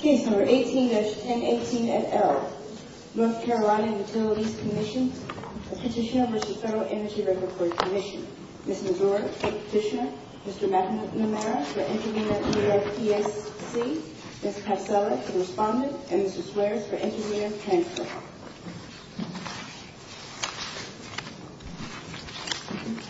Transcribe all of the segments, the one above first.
Chief No. 18-1018 et al., North Carolina Utilities Commission, Petitioner v. Federal Energy Report Commission, Mr. Brewer, Petitioner, Mr. McNamara, the Engineer at New York PSC, Mr. Castellas, the Respondent, and Mr. Suarez, the Engineer, and so on. Thank you.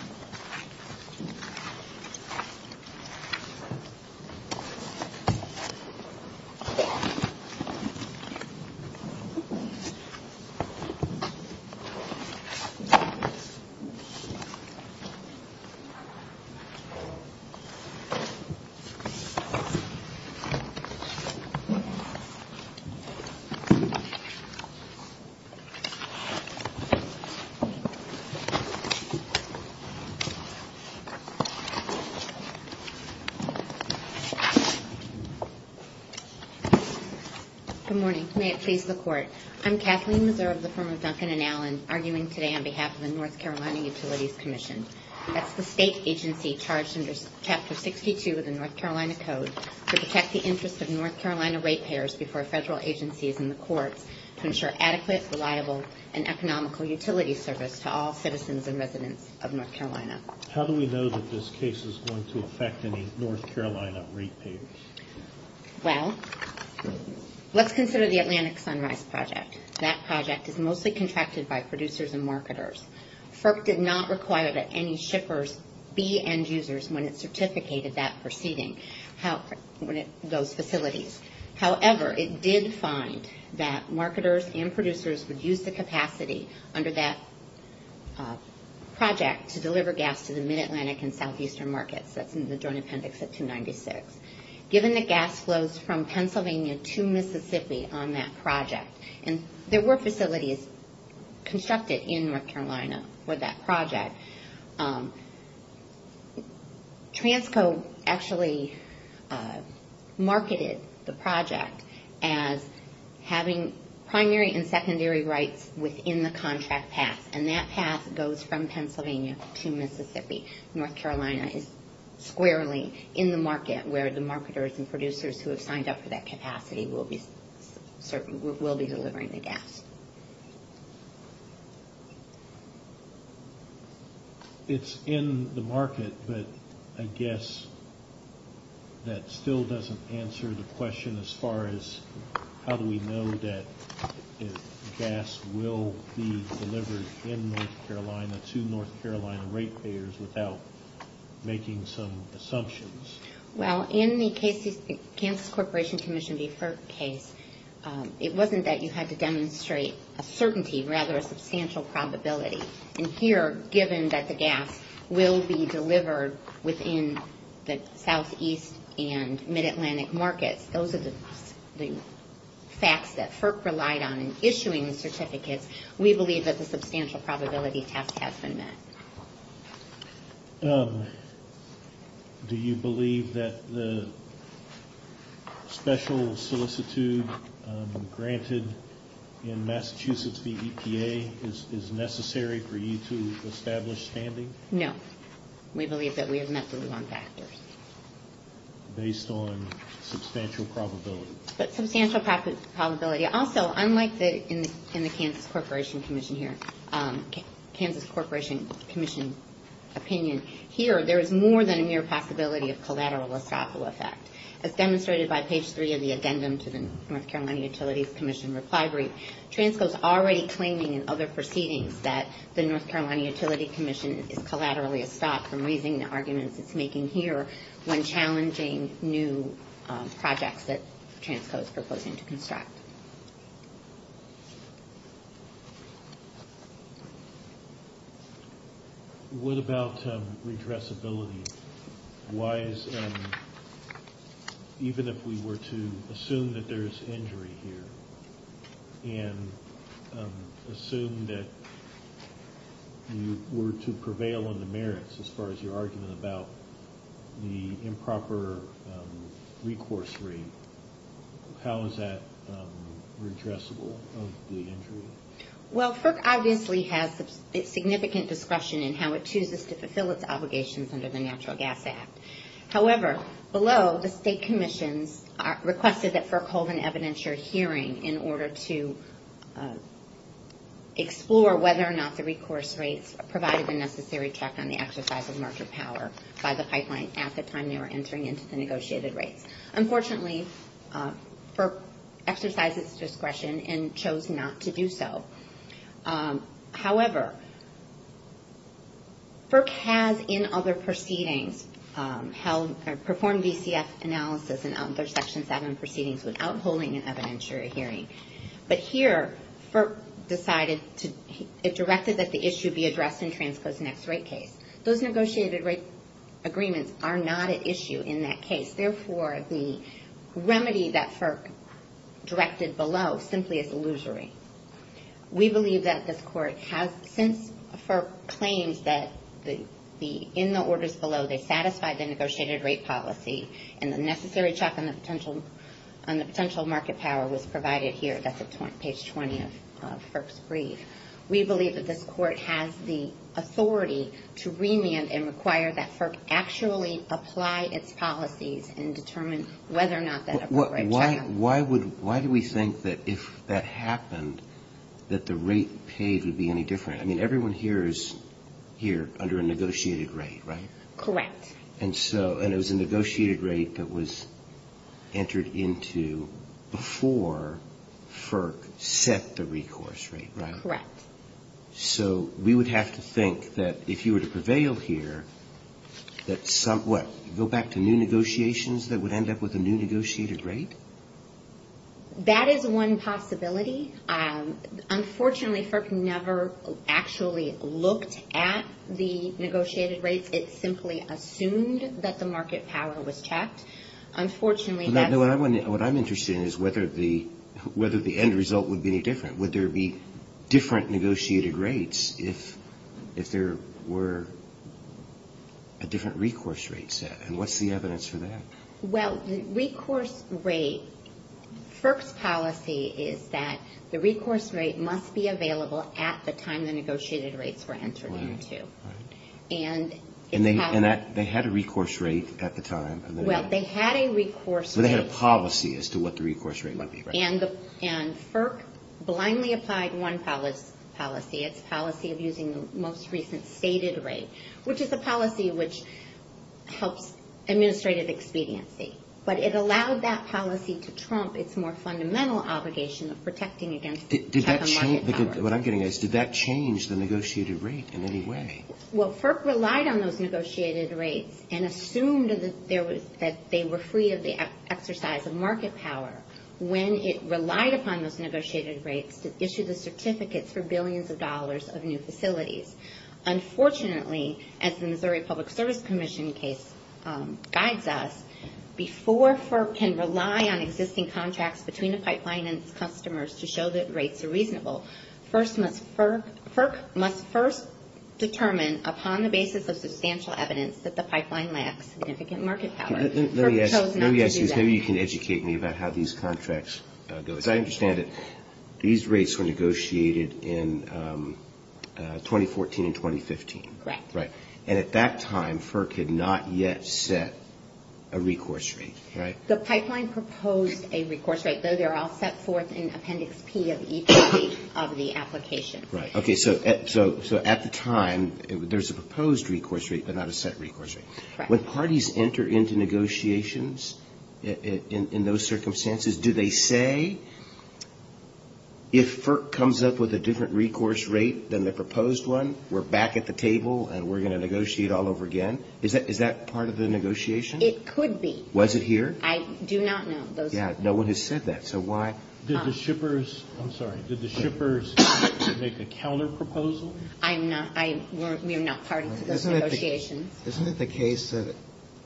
Good morning. May it please the Court. I'm Kathleen Reserve, the firm of Duncan and Allen, arguing today on behalf of the North Carolina Utilities Commission. That's the state agency charged under Chapter 62 of the North Carolina Code to protect the interests of North Carolina ratepayers before federal agencies and the Court to ensure adequate, reliable, and economical utility service to all citizens and residents of North Carolina. How do we know that this case is going to affect any North Carolina ratepayers? Well, let's consider the Atlantic Sunrise Project. That project is mostly contracted by producers and marketers. FERC did not require that any shippers be end users when it certificated that proceeding, those facilities. However, it did find that marketers and producers would use the capacity under that project to deliver gas to the Mid-Atlantic and Southeastern markets. That's in the Joint Appendix of 296. Given the gas flows from Pennsylvania to Mississippi on that project, and there were facilities constructed in North Carolina for that project, Transco actually marketed the project as having primary and secondary rights within the contract path, and that path goes from Pennsylvania to Mississippi. North Carolina is squarely in the market where the marketers and producers who have signed up for that capacity will be delivering the gas. It's in the market, but I guess that still doesn't answer the question as far as how do we know that gas will be delivered in North Carolina to North Carolina rate payers without making some assumptions. Well, in the case of the Cancel Corporation Commission v. FERC case, it wasn't that you had to demonstrate a certainty, rather a substantial probability. And here, given that the gas will be delivered within the Southeast and Mid-Atlantic markets, those are the facts that FERC relied on in issuing the certificate. We believe that the substantial probability has been met. Do you believe that the special solicitude granted in Massachusetts v. EPA is necessary for you to establish standing? No. We believe that we have met the wrong factors. Based on substantial probability. But substantial probability. Also, unlike in the Cancel Corporation Commission opinion, here there is more than a mere possibility of collateral or causal effect. As demonstrated by page 3 of the addendum to the North Carolina Utilities Commission Refinery, Transco is already claiming in other proceedings that the North Carolina Utilities Commission is collaterally stopped from raising the arguments it's making here when challenging new projects that Transco is proposing to construct. What about redressability? Why is, even if we were to assume that there's injury here, and assume that you were to prevail on the merits, as far as your argument about the improper recourse rate, how is that redressable of the injury? Well, FERC obviously has significant discretion in how it chooses to fulfill its obligations under the Natural Gas Act. However, below, the State Commission requested that FERC hold an evidentiary hearing in order to explore whether or not the recourse rate provided the necessary check on the exercise of market power by the pipeline at the time they were entering into the negotiated rate. Unfortunately, FERC exercised its discretion and chose not to do so. However, FERC has, in other proceedings, performed DCS analysis under Section 7 proceedings without holding an evidentiary hearing. But here, FERC decided to, it directed that the issue be addressed in Transco's next rate case. Those negotiated rate agreements are not at issue in that case. Therefore, the remedy that FERC directed below simply is illusory. We believe that this Court has, since FERC claims that, in the orders below, they satisfy the negotiated rate policy and the necessary check on the potential market power was provided here, that's at page 20 of FERC's brief, we believe that this Court has the authority to remand and require that FERC actually apply its policies and determine whether or not that appropriate check... Why do we think that if that happened, that the rate paid would be any different? I mean, everyone here is here under a negotiated rate, right? Correct. And so, and it was a negotiated rate that was entered into before FERC set the recourse rate, right? Correct. So, we would have to think that if you were to prevail here, that some, what, go back to new negotiations that would end up with a new negotiated rate? That is one possibility. Unfortunately, FERC never actually looked at the negotiated rates. It simply assumed that the market power was checked. Unfortunately... What I'm interested in is whether the end result would be any different. Would there be different negotiated rates if there were a different recourse rate set? And what's the evidence for that? Well, the recourse rate, FERC's policy is that the recourse rate must be available at the time the negotiated rates were entered into. And they had a recourse rate at the time. Well, they had a recourse rate... They had a policy as to what the recourse rate would be, right? And FERC blindly applied one policy. It's a policy of using the most recent stated rate, which is a policy which helps administrative expediency. But it allowed that policy to trump its more fundamental obligation of protecting against... What I'm getting at is, did that change the negotiated rate in any way? Well, FERC relied on those negotiated rates and assumed that they were free of the exercise of market power. When it relied upon those negotiated rates it issued the certificates for billions of dollars of new facilities. Unfortunately, as the Missouri Public Service Commission case guides us, before FERC can rely on existing contracts between the pipeline and customers to show that rates are reasonable, FERC must first determine, upon the basis of substantial evidence, that the pipeline lacks significant market power. Let me ask you. Maybe you can educate me about how these contracts go. As I understand it, these rates were negotiated in 2014, 2015. Right. And at that time, FERC had not yet set a recourse rate, right? The pipeline proposed a recourse rate, though they're all set forth in Appendix P of each of the applications. Right. Okay, so at the time there's a proposed recourse rate, but not a set recourse rate. When parties enter into negotiations in those circumstances, do they say, if FERC comes up with a different recourse rate than the proposed one, we're back at the table and we're going to negotiate all over again? Is that part of the negotiation? It could be. Was it here? I do not know. Yeah, no one has said that, so why? Did the shippers make a counterproposal? We're not part of the negotiation. Isn't it the case that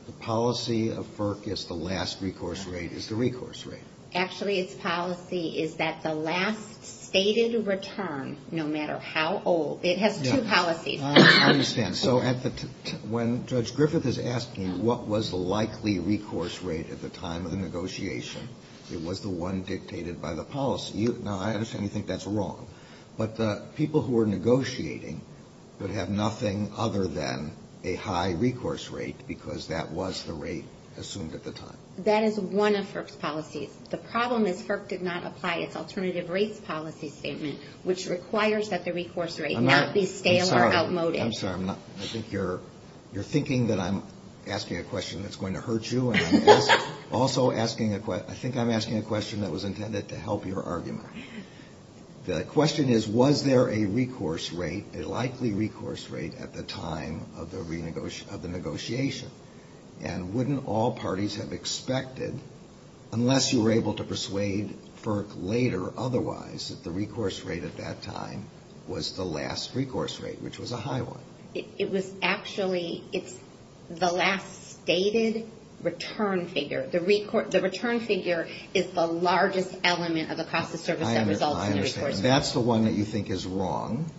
the policy of FERC is the last recourse rate is the recourse rate? Actually, it's policy is that the last stated return, no matter how old, it has two policies. I understand. So when Judge Griffith is asking what was the likely recourse rate at the time of the negotiation, it was the one dictated by the policy. Now, I understand you think that's wrong, but the people who are negotiating would have nothing other than a high recourse rate because that was the rate assumed at the time. That is one of FERC's policies. The problem is FERC could not apply its alternative rate policy statement, which requires that the recourse rate not be stale or outmoded. I'm sorry. I think you're thinking that I'm asking a question that's going to hurt you. Also, I think I'm asking a question that was intended to help your argument. The question is, was there a recourse rate, a likely recourse rate at the time of the negotiation, and wouldn't all parties have expected, unless you were able to persuade FERC later otherwise, that the recourse rate at that time was the last recourse rate, which was a high one? It was actually the last stated return figure. The return figure is the largest element of the cost of service that results in the recourse rate. I understand. That's the one that you think is wrong.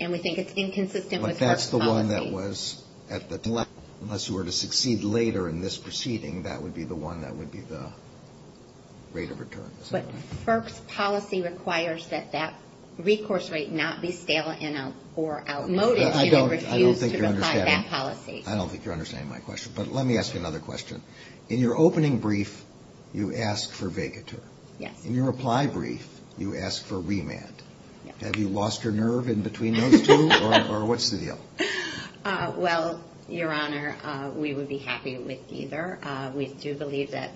And we think it's inconsistent with FERC policy. That's the one that was at the time, unless you were to succeed later in this proceeding, that would be the one that would be the rate of return. But FERC's policy requires that that recourse rate not be stale or outmoded. I don't think you understand my question. But let me ask you another question. In your opening brief, you asked for vacatur. Yes. In your reply brief, you asked for remand. Have you lost your nerve in between those two? Or what's the deal? Well, Your Honor, we would be happy with either. We do believe that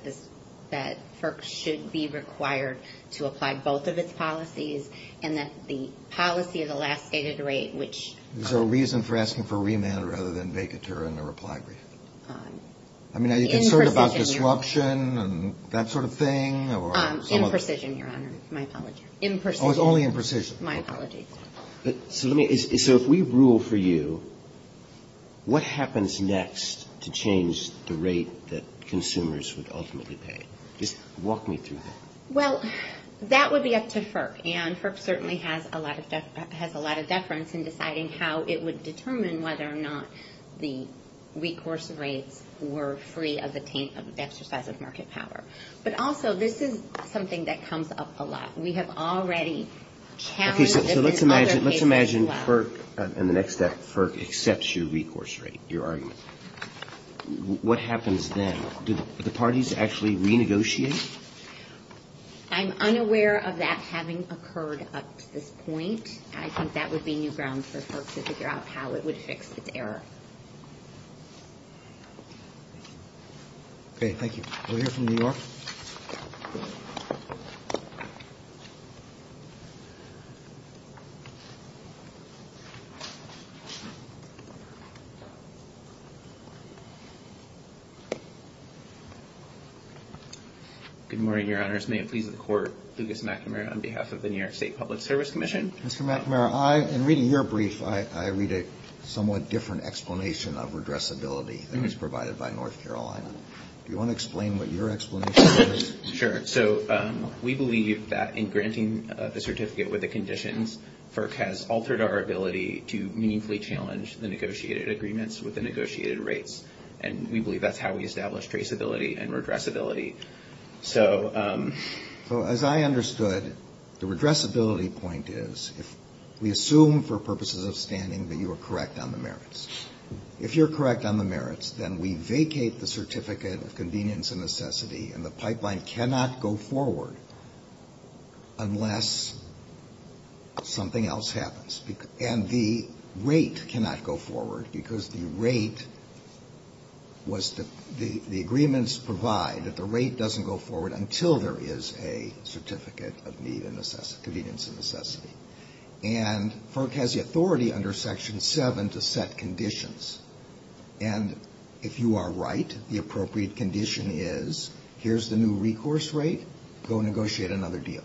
FERC should be required to apply both of its policies, and that the policy of the last stated rate, which- Is there a reason for asking for remand rather than vacatur in the reply brief? I mean, are you concerned about disruption and that sort of thing? Imprecision, Your Honor. My apologies. Imprecision. Oh, it's only imprecision. My apologies. So if we rule for you, what happens next to change the rate that consumers would ultimately pay? Just walk me through that. Well, that would be up to FERC, and FERC certainly has a lot of deference in deciding how it would determine whether or not the recourse rates were free of the exercise of market power. But also, this is something that comes up a lot. We have already carried within other states as well. Okay, so let's imagine FERC in the next step, FERC accepts your recourse rate, your argument. What happens then? Do the parties actually renegotiate? I'm unaware of that having occurred up to this point. I think that would be new ground for FERC to figure out how it would fix this error. Okay, thank you. We'll hear from New York. Good morning, Your Honor. May I please record Lucas McNamara on behalf of the New York State Public Service Commission? Mr. McNamara, in reading your brief, I read a somewhat different explanation of redressability than is provided by North Carolina. Do you want to explain what your explanation is? Sure. So, we believe that in granting the certificate with the conditions, FERC has altered our ability to meaningfully challenge the negotiated agreements with the negotiated rates. And we believe that's how we establish traceability and redressability. So, as I understood, the redressability point is, if you're correct on the merits, then we vacate the certificate of convenience and necessity and the pipeline cannot go forward unless something else happens. And the rate cannot go forward because the rate was to, the agreements provide that the rate doesn't go forward until there is a certificate of need and necessity, convenience and necessity. And FERC has the authority under Section 7 to set conditions. And if you are right, the appropriate condition is, here's the new recourse rate, go negotiate another deal.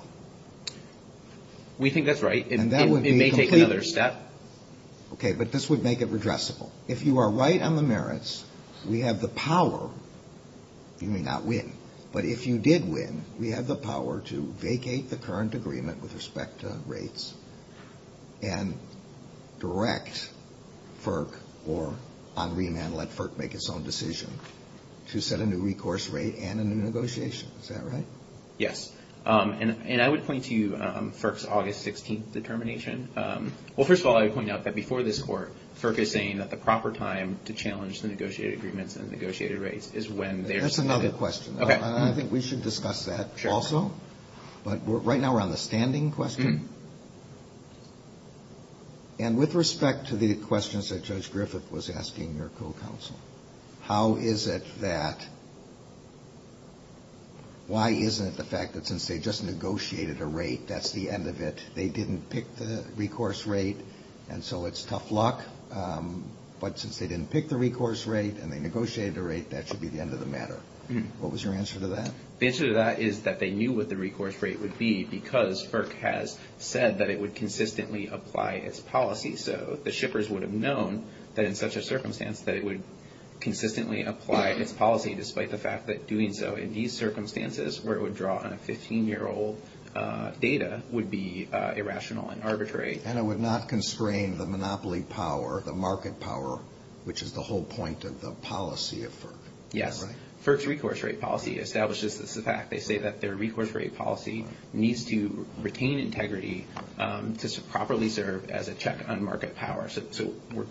We think that's right. It may take another step. Okay, but this would make it redressable. If you are right on the merits, we have the power, you may not win, but if you did win, we have the power to vacate the current agreement with respect to rates and direct FERC or on reamend let FERC make its own decision to set a new recourse rate and a new negotiation. Is that right? Yes. And I would point to FERC's August 16th determination. Well, first of all, I would point out that before this Court, FERC is saying that the proper time to challenge the negotiated agreements and negotiated rates is when there's I have another question, and I think we should discuss that also. But right now we're on the standing question. And with respect to the questions that Judge Griffith was asking your co-counsel, how is it that why isn't it the fact that since they just negotiated a rate, that's the end of it? They didn't pick the recourse rate, and so it's tough luck. But since they didn't pick the recourse rate and they negotiated the rate, that should be the end of the matter. What was your answer to that? The answer to that is that they knew what the recourse rate would be because FERC has said that it would consistently apply its policy. So the shippers would have known that in such a circumstance that it would consistently apply its policy despite the fact that doing so in these circumstances where it would draw on a 15-year-old data would be irrational and arbitrary. And it would not constrain the monopoly power, the market power, which is the whole point of the policy of FERC. Yes. FERC's recourse rate policy establishes this. In fact, they say that their recourse rate policy needs to retain integrity to properly serve as a check on market power. So we're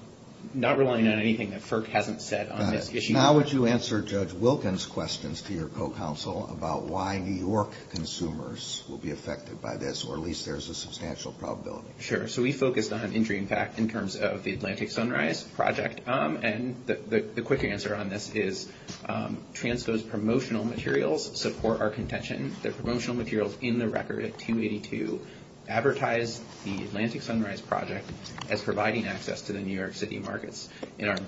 not relying on anything that FERC hasn't said on this issue. Now would you answer Judge Wilkins' questions to your co-counsel about why New York consumers will be affected by this or at least there's a substantial probability? Sure. So we focused on injury in fact in terms of the Atlantic Sunrise Project. And the quick answer on this is TRANSO's promotional materials support our contention. Their promotional materials in the record at 282 advertise the Atlantic Sunrise Project as providing access to the New York City markets. In our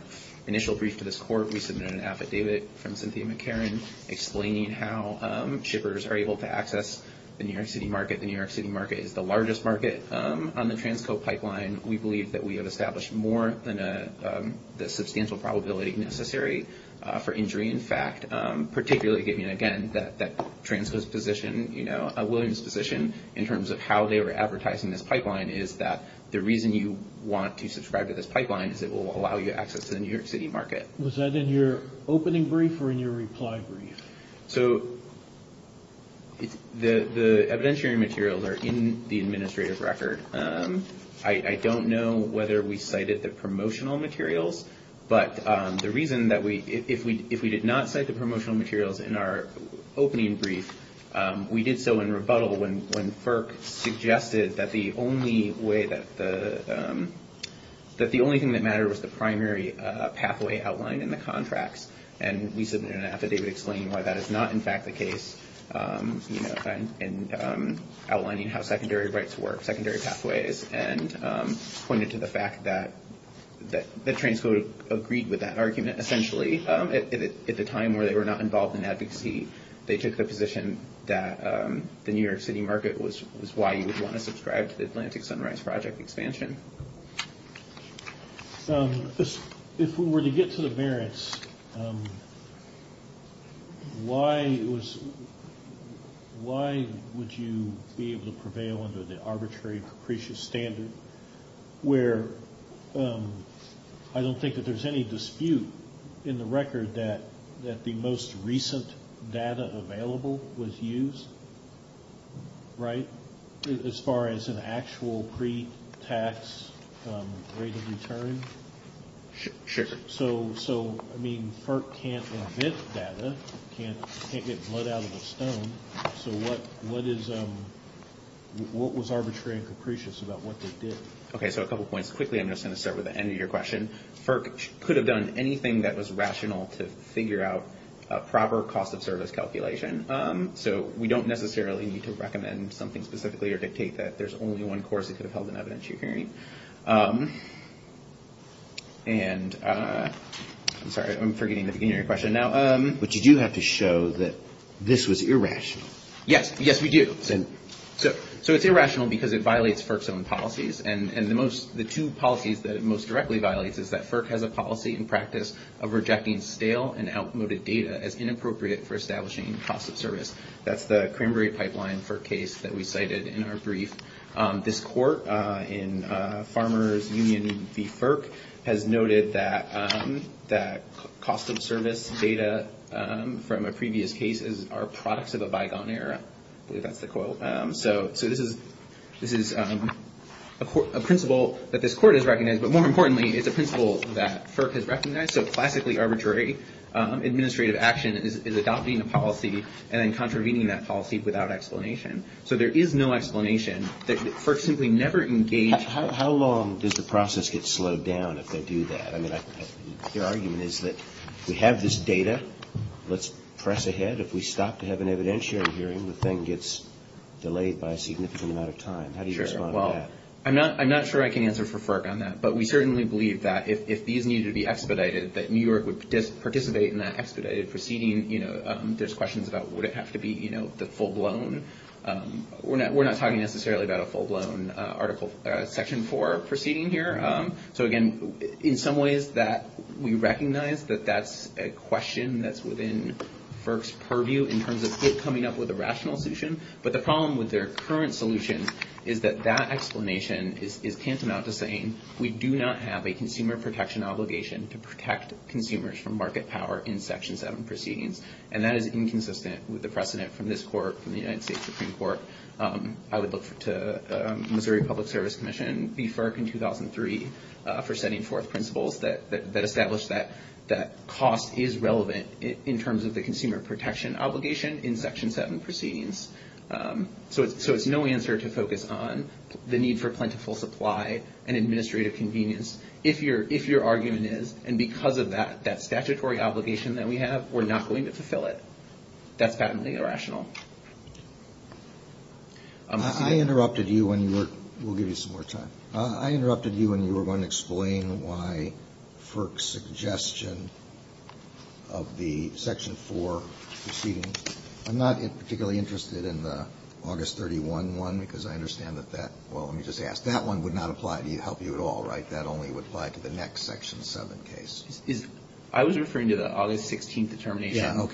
initial brief to this court, we submitted an affidavit from Cynthia McCarran explaining how shippers are able to access the New York City market. The New York City market is the largest market on the TRANSO pipeline. We believe that we have established more than the substantial probability necessary for injury. In fact, particularly giving again that TRANSO's position, you know, a willingness position in terms of how they were advertising this pipeline is that the reason you want to subscribe to this pipeline is it will allow you access to the New York City market. Was that in your opening brief or in your reply brief? So the evidentiary materials are in the administrative record. I don't know whether we cited the promotional materials, but the reason that we – if we did not cite the promotional materials in our opening brief, we did so in rebuttal when FERC suggested that the only way that the – and we submitted an affidavit explaining why that is not in fact the case, you know, and outlining how secondary rights work, secondary pathways, and pointed to the fact that TRANSO agreed with that argument essentially. At the time where they were not involved in advocacy, they took the position that the New York City market was why you would want to subscribe to the Atlantic Sunrise Project expansion. Thank you. If we were to get to the merits, why was – why would you be able to prevail under the arbitrary, capricious standard where – I don't think that there's any dispute in the record that the most recent data available was used, right, as far as an actual pre-tax rate of return? Sure. So, I mean, FERC can't inhibit data. It can't get blood out of the stone. So what is – what was arbitrary and capricious about what they did? Okay, so a couple points. Quickly, I'm just going to start with the end of your question. FERC could have done anything that was rational to figure out a proper cost of service calculation. So we don't necessarily need to recommend something specifically or dictate that there's only one course that could have held an evidentiary. And – I'm sorry, I'm forgetting the beginning of your question now. But you do have to show that this was irrational. Yes, yes, we do. So it's irrational because it violates FERC's own policies. And the most – the two policies that it most directly violates is that FERC has a policy and practice of rejecting stale and outmoded data as inappropriate for establishing cost of service. That's the Cranberry Pipeline FERC case that we cited in our brief. This court in Farmers Union v. FERC has noted that cost of service data from a previous case is our product of a bygone era. I believe that's the quote. So this is a principle that this court has recognized. So classically arbitrary administrative action is adopting a policy and then contravening that policy without explanation. So there is no explanation. FERC simply never engaged – How long does the process get slowed down if they do that? I mean, what they're arguing is that we have this data. Let's press ahead. If we stop to have an evidentiary hearing, the thing gets delayed by a significant amount of time. How do you respond to that? Sure, well, I'm not sure I can answer for FERC on that. But we certainly believe that if these needed to be expedited, that New York would participate in that expedited proceeding. There's questions about would it have to be the full-blown – we're not talking necessarily about a full-blown Article Section 4 proceeding here. So, again, in some ways that we recognize that that's a question that's within FERC's purview in terms of it coming up with a rational solution. But the problem with their current solution is that that explanation is tantamount to saying we do not have a consumer protection obligation to protect consumers from market power in Section 7 proceedings. And that is inconsistent with the precedent from this court, from the United States Supreme Court, out of the Missouri Public Service Commission, and FERC in 2003 for setting forth principles that establish that cost is relevant in terms of the consumer protection obligation in Section 7 proceedings. So, it's no answer to focus on the need for plentiful supply and administrative convenience, if your argument is, and because of that, that statutory obligation that we have, we're not going to fulfill it. That's patently irrational. I interrupted you when you were – we'll give you some more time. I interrupted you when you were going to explain why FERC's suggestion of the Section 4 proceeding – I'm not particularly interested in the August 31 one, because I understand that that – well, let me just ask. That one would not apply to help you at all, right? That only would apply to the next Section 7 case. I was referring to the August 16th determination.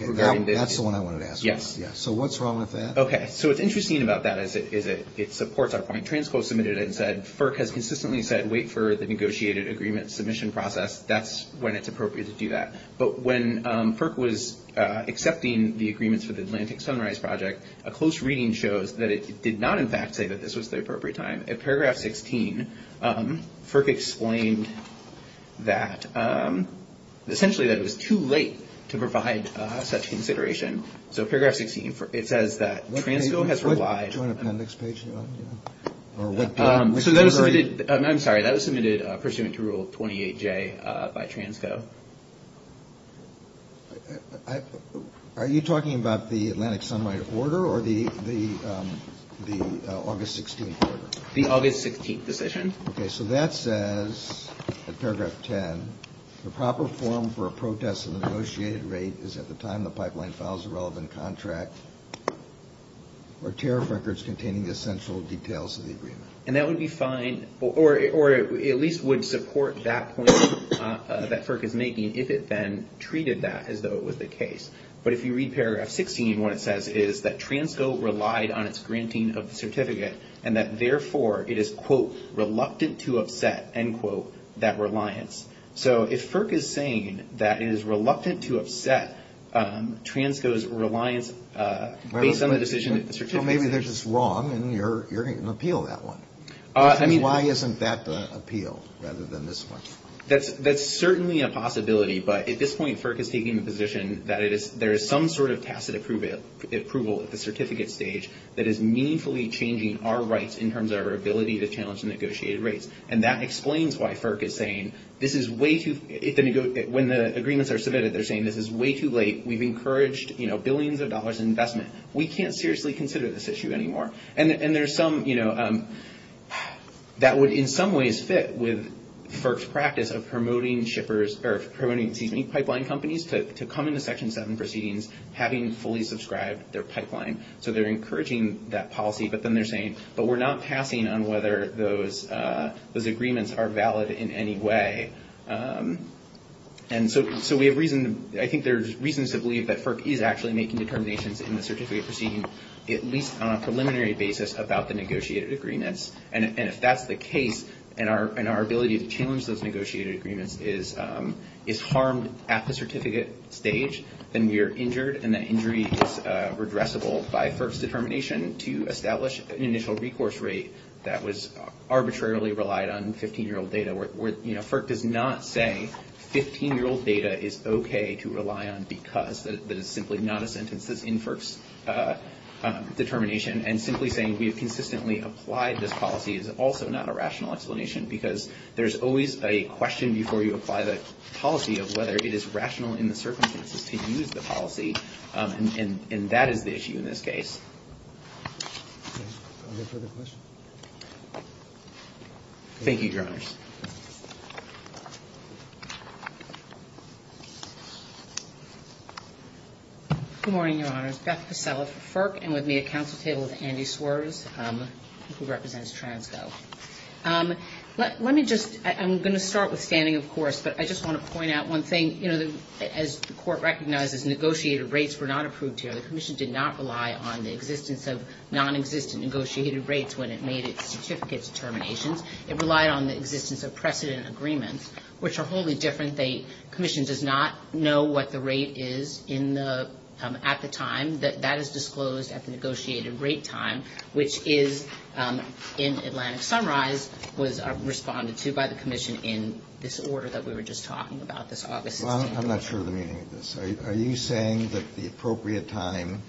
That's the one I wanted to ask. Yes. So, what's wrong with that? Okay. So, what's interesting about that is it supports our point. Transco submitted it and said, FERC has consistently said wait for the negotiated agreement submission process. That's when it's appropriate to do that. But when FERC was accepting the agreements for the Atlantic Sunrise Project, a close reading shows that it did not, in fact, say that this was the appropriate time. In Paragraph 16, FERC explained that essentially that it was too late to provide such consideration. So, Paragraph 16, it says that Transco has relied – Do you want to go to the next page? So, that was submitted – I'm sorry. That was submitted pursuant to Rule 28J by Transco. Are you talking about the Atlantic Sunrise order or the August 16th order? The August 16th decision. Okay. So, that says, in Paragraph 10, the proper form for a protest and negotiated rate is at the time the pipeline files a relevant contract or tariff records containing the essential details of the agreement. And that would be fine or at least would support that point that FERC is making if it then treated that as though it was the case. But if you read Paragraph 16, what it says is that Transco relied on its granting of the certificate and that therefore it is, quote, reluctant to upset, end quote, that reliance. So, if FERC is saying that it is reluctant to upset Transco's reliance based on the decision – So, maybe this is wrong and you're going to appeal that one. I mean, why isn't that the appeal rather than this one? That's certainly a possibility, but at this point, FERC is taking the position that there is some sort of tacit approval at the certificate stage that is meaningfully changing our rights in terms of our ability to challenge a negotiated rate. And that explains why FERC is saying this is way too – when the agreements are submitted, they're saying this is way too late. We've encouraged, you know, billions of dollars in investment. We can't seriously consider this issue anymore. And there's some, you know, that would in some ways fit with FERC's practice of promoting shippers or promoting pipeline companies to come into Section 7 proceedings having fully subscribed their pipeline. So, they're encouraging that policy, but then they're saying, but we're not passing on whether those agreements are valid in any way. And so, we have reason – I think there's reasons to believe that FERC is actually making determinations in the certificate proceeding at least on a preliminary basis about the negotiated agreements. And if that's the case and our ability to challenge those negotiated agreements is harmed at the certificate stage, then we are injured and that injury is redressable by FERC's determination to establish an initial recourse rate that was arbitrarily relied on 15-year-old data. You know, FERC does not say 15-year-old data is okay to rely on because. That is simply not a sentence that's in FERC's determination. And simply saying we have consistently applied this policy is also not a rational explanation because there's always a question before you apply the policy of whether it is rational in the circumstances to use the policy. And that is the issue in this case. Thank you, Your Honors. Good morning, Your Honors. My name is Beth Purcell with FERC and with me at counsel's table is Andy Swerves, who represents TRAMSO. Let me just – I'm going to start with standing, of course, but I just want to point out one thing. You know, as the Court recognizes, negotiated rates were not approved here. The Commission did not rely on the existence of nonexistent negotiated rates when it made its certificate determinations. It relied on the existence of precedent agreements, which are wholly different. The Commission does not know what the rate is at the time that that is disclosed at the negotiated rate time, which is, in Atlantic Sunrise, was responded to by the Commission in this order that we were just talking about this August. I'm not sure of the meaning of this. Are you saying that the appropriate time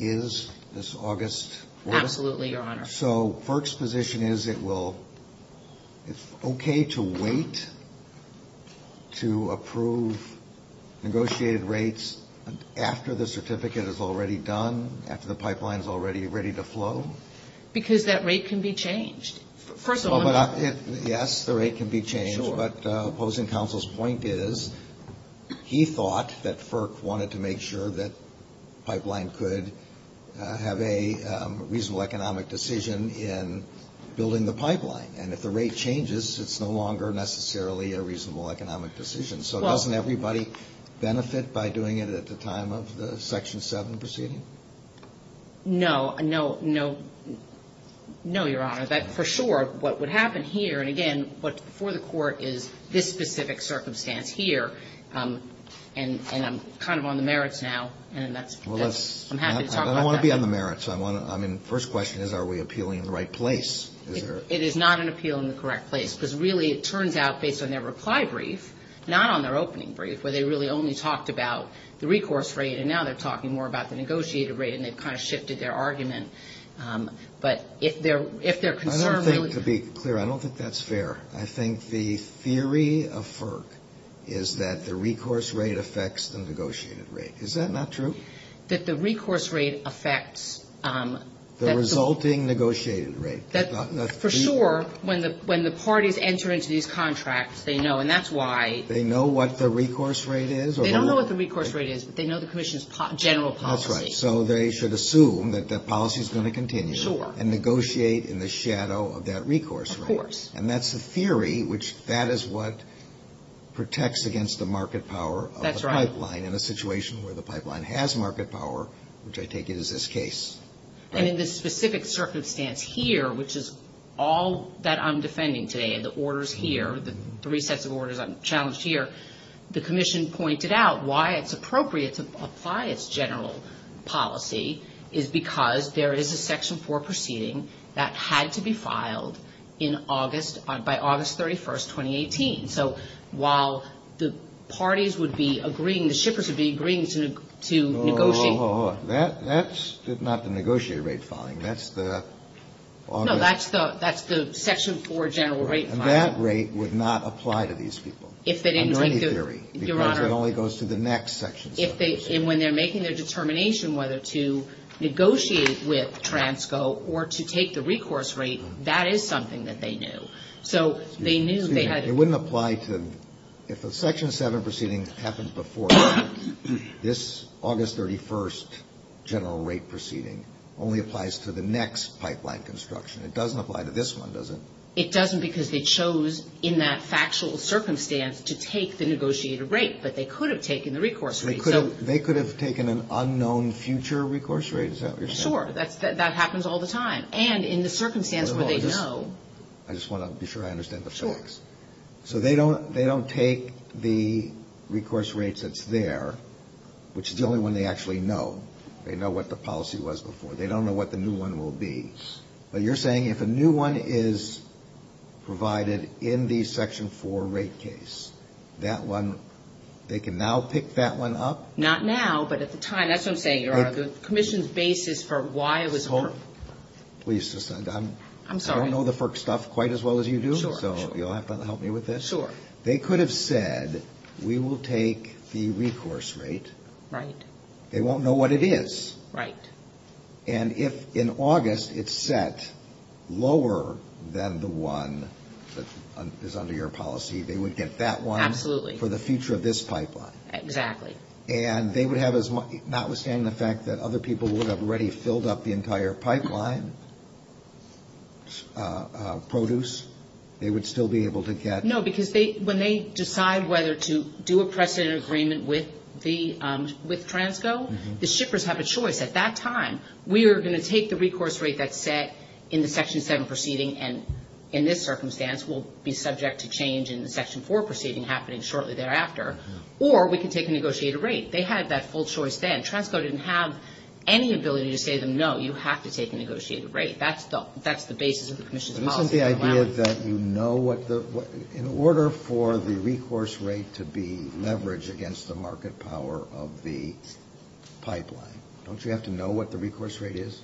is this August? Absolutely, Your Honor. So, FERC's position is it's okay to wait to approve negotiated rates after the certificate is already done, after the pipeline is already ready to flow? Because that rate can be changed. Yes, the rate can be changed, but opposing counsel's point is he thought that FERC wanted to make sure that the pipeline could have a reasonable economic decision in building the pipeline. And if the rate changes, it's no longer necessarily a reasonable economic decision. So, doesn't everybody benefit by doing it at the time of the Section 7 proceeding? No, no, no, no, Your Honor. For sure, what would happen here, and again, what's before the Court is this specific circumstance here, and I'm kind of on the merits now, and I'm happy to talk about that. I don't want to be on the merits. I mean, the first question is, are we appealing in the right place? It is not an appeal in the correct place, because really, it turns out, based on their reply brief, not on their opening brief, where they really only talked about the recourse rate, and now they're talking more about the negotiated rate, and they've kind of shifted their argument. But if they're concerned... I don't think, to be clear, I don't think that's fair. I think the theory of FERC is that the recourse rate affects the negotiated rate. Is that not true? That the recourse rate affects... The resulting negotiated rate. For sure, when the parties enter into these contracts, they know, and that's why... They know what the recourse rate is? They don't know what the recourse rate is, but they know the Commission's general policy. That's right. So, they should assume that that policy is going to continue. Sure. And negotiate in the shadow of that recourse rate. Of course. And that's the theory, which that is what protects against the market power of the pipeline... That's right. ...in a situation where the pipeline has market power, which I take it is this case. And in this specific circumstance here, which is all that I'm defending today, the orders here, the three sets of orders I'm challenged here, the Commission pointed out why it's appropriate to apply its general policy, is because there is a Section 4 proceeding that had to be filed in August, by August 31, 2018. So, while the parties would be agreeing, the shippers would be agreeing to negotiate... Whoa, whoa, whoa. That's not the negotiated rate filing. That's the... No, that's the Section 4 general rate filing. And that rate would not apply to these people. If they didn't like the... I know the theory. Your Honor... Because it only goes to the next section. And when they're making their determination whether to negotiate with TRANSCO or to take the recourse rate, that is something that they knew. So, they knew they had... It wouldn't apply to... If a Section 7 proceeding happens before this August 31st general rate proceeding, only applies to the next pipeline construction. It doesn't apply to this one, does it? It doesn't because they chose in that factual circumstance to take the negotiated rate, but they could have taken the recourse rate. They could have taken an unknown future recourse rate, is that what you're saying? Sure. That happens all the time. And in the circumstance where they know... I just want to be sure I understand the facts. Sure. So, they don't take the recourse rate that's there, which is the only one they actually know. They know what the policy was before. They don't know what the new one will be. Yes. But you're saying if a new one is provided in the Section 4 rate case, that one... They can now pick that one up? Not now, but at the time. That's what I'm saying. Or the Commission's basis for why it was... Please, Susan. I'm sorry. I don't know the FERC stuff quite as well as you do, so you'll have to help me with this. Sure. They could have said, we will take the recourse rate. Right. They won't know what it is. Right. And if in August it's set lower than the one that is under your policy, they would get that one... Absolutely. ...for the future of this pipeline. Exactly. And they would have as much... Notwithstanding the fact that other people would have already filled up the entire pipeline, produce, they would still be able to get... No, because when they decide whether to do a precedent agreement with Transco, the shippers have a choice at that time. We are going to take the recourse rate that's set in the Section 7 proceeding, and in this circumstance we'll be subject to change in the Section 4 proceeding happening shortly thereafter, or we can take a negotiated rate. They had that full choice then. Transco didn't have any ability to say to them, no, you have to take a negotiated rate. That's the basis of the Commission's policy. In order for the recourse rate to be leveraged against the market power of the pipeline, don't you have to know what the recourse rate is?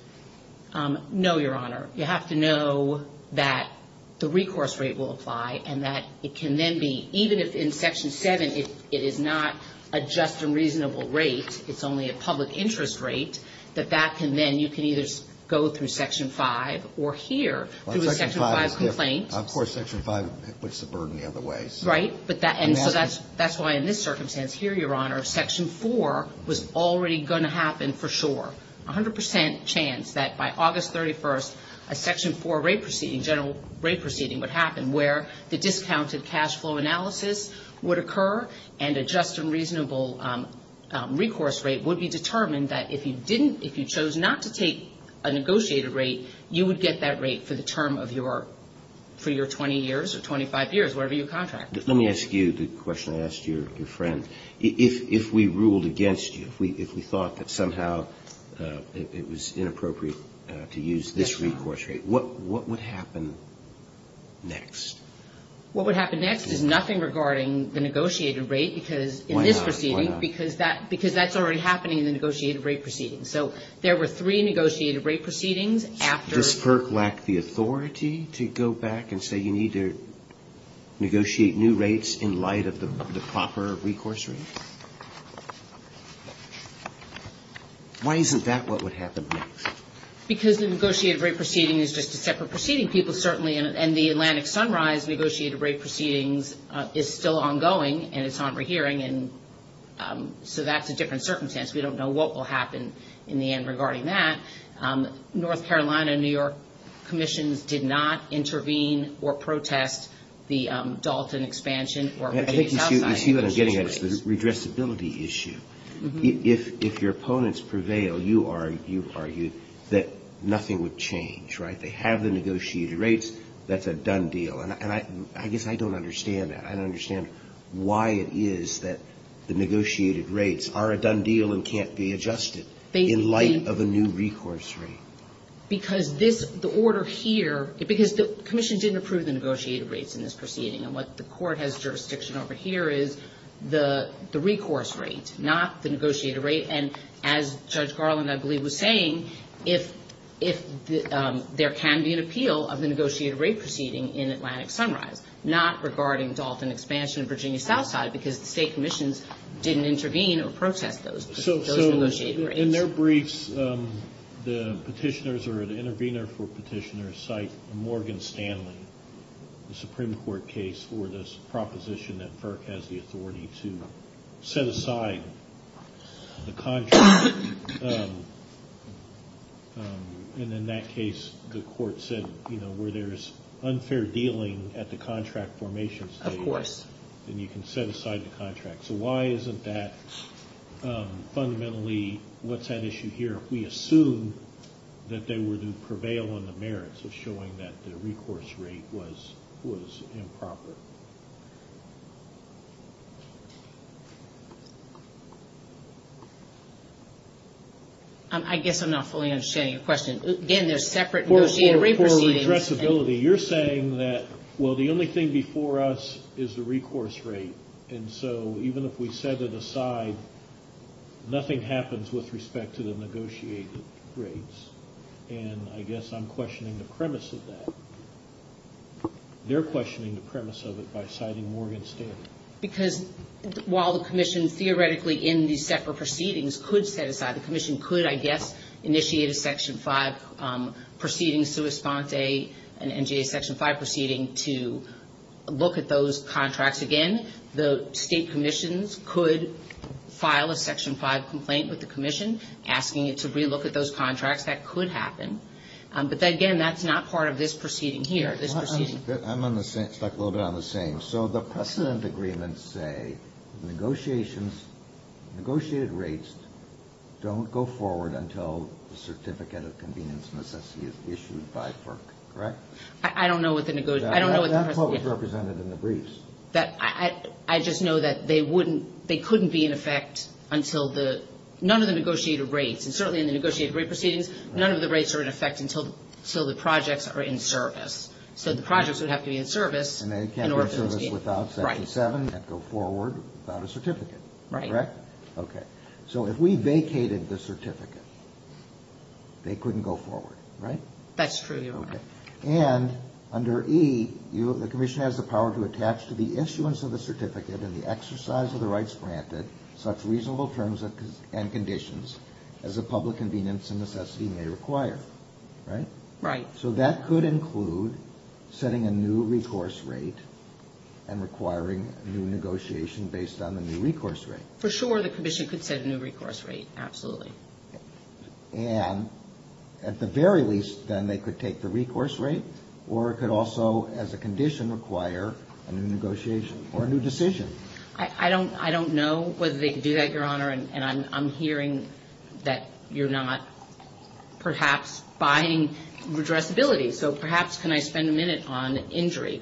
No, Your Honor. You have to know that the recourse rate will apply and that it can then be, even if in Section 7 it is not a just and reasonable rate, it's only a public interest rate, that that can then, you can either go through Section 5 or here through a Section 5 complaint. Of course, Section 5 puts the burden the other way. Right, and so that's why in this circumstance here, Your Honor, Section 4 was already going to happen for sure. A hundred percent chance that by August 31st a Section 4 rate proceeding, general rate proceeding, would happen, where the discounted cash flow analysis would occur and a just and reasonable recourse rate would be determined that if you didn't, if you chose not to take a negotiated rate, you would get that rate for the term of your, for your 20 years or 25 years, whatever your contract is. Let me ask you the question I asked your friend. If we ruled against you, if we thought that somehow it was inappropriate to use this recourse rate, what would happen next? What would happen next is nothing regarding the negotiated rate because in this proceeding, because that's already happening in the negotiated rate proceeding. So there were three negotiated rate proceedings after... Does PERC lack the authority to go back and say you need to negotiate new rates in light of the proper recourse rate? Why isn't that what would happen next? Because the negotiated rate proceeding is just a separate proceeding. People certainly in the Atlantic Sunrise negotiated rate proceedings is still ongoing and it's on rehearing and so that's a different circumstance. We don't know what will happen in the end regarding that. North Carolina and New York commissions did not intervene or protest the Dalton expansion or... I think you're getting a redressability issue. If your opponents prevail, you argued that nothing would change, right? They have the negotiated rates. That's a done deal. And I guess I don't understand that. I don't understand why it is that the negotiated rates are a done deal and can't be adjusted in light of a new recourse rate. Because the commission didn't approve the negotiated rates in this proceeding and what the court has jurisdiction over here is the recourse rate, not the negotiated rate. And as Judge Garland, I believe, was saying, there can be an appeal of the negotiated rate proceeding in Atlantic Sunrise, not regarding Dalton expansion in Virginia Southside because the state commissions didn't intervene or protest those negotiated rates. So in their briefs, the petitioners or the intervener for petitioners cite Morgan Stanley, the Supreme Court case for this proposition that FERC has the authority to set aside the contract. And in that case, the court said, you know, where there is unfair dealing at the contract formation stage, then you can set aside the contract. So why isn't that fundamentally what's at issue here? We assume that they were to prevail on the merits of showing that the recourse rate was improper. I guess I'm not fully understanding your question. Again, there's separate negotiated rate proceedings. For expressibility, you're saying that, well, the only thing before us is the recourse rate. And so even if we set it aside, nothing happens with respect to the negotiated rates. And I guess I'm questioning the premise of that. They're questioning the premise of it by citing Morgan Stanley. Because while the commission theoretically in these separate proceedings could set aside, the commission could, I guess, initiate a Section 5 proceeding, sui sante and initiate a Section 5 proceeding to look at those contracts again. The state commissions could file a Section 5 complaint with the commission asking it to relook at those contracts. That could happen. But, again, that's not part of this proceeding here. I'm on the same, stuck a little bit on the same. So the precedent agreements say negotiations, negotiated rates don't go forward until the certificate of convenience and necessity is issued by FERC, correct? I don't know what the, I don't know what the. That's what was represented in the briefs. I just know that they wouldn't, they couldn't be in effect until the, none of the negotiated rates, and certainly in the negotiated rate proceedings, none of the rates are in effect until the projects are in service. So the projects would have to be in service. And they can't be in service without Section 7 and go forward without a certificate. Right. Correct? Okay. So if we vacated the certificate, they couldn't go forward, right? That's true. Okay. And under E, the commission has the power to attach to the issuance of the certificate and the exercise of the rights granted such reasonable terms and conditions as the public convenience and necessity may require, right? Right. So that could include setting a new recourse rate and requiring new negotiation based on the new recourse rate. For sure, the commission could set a new recourse rate, absolutely. And at the very least, then, they could take the recourse rate or it could also, as a condition, require a new negotiation or a new decision. I don't know whether they could do that, Your Honor. And I'm hearing that you're not perhaps buying redressability. So perhaps can I spend a minute on injury?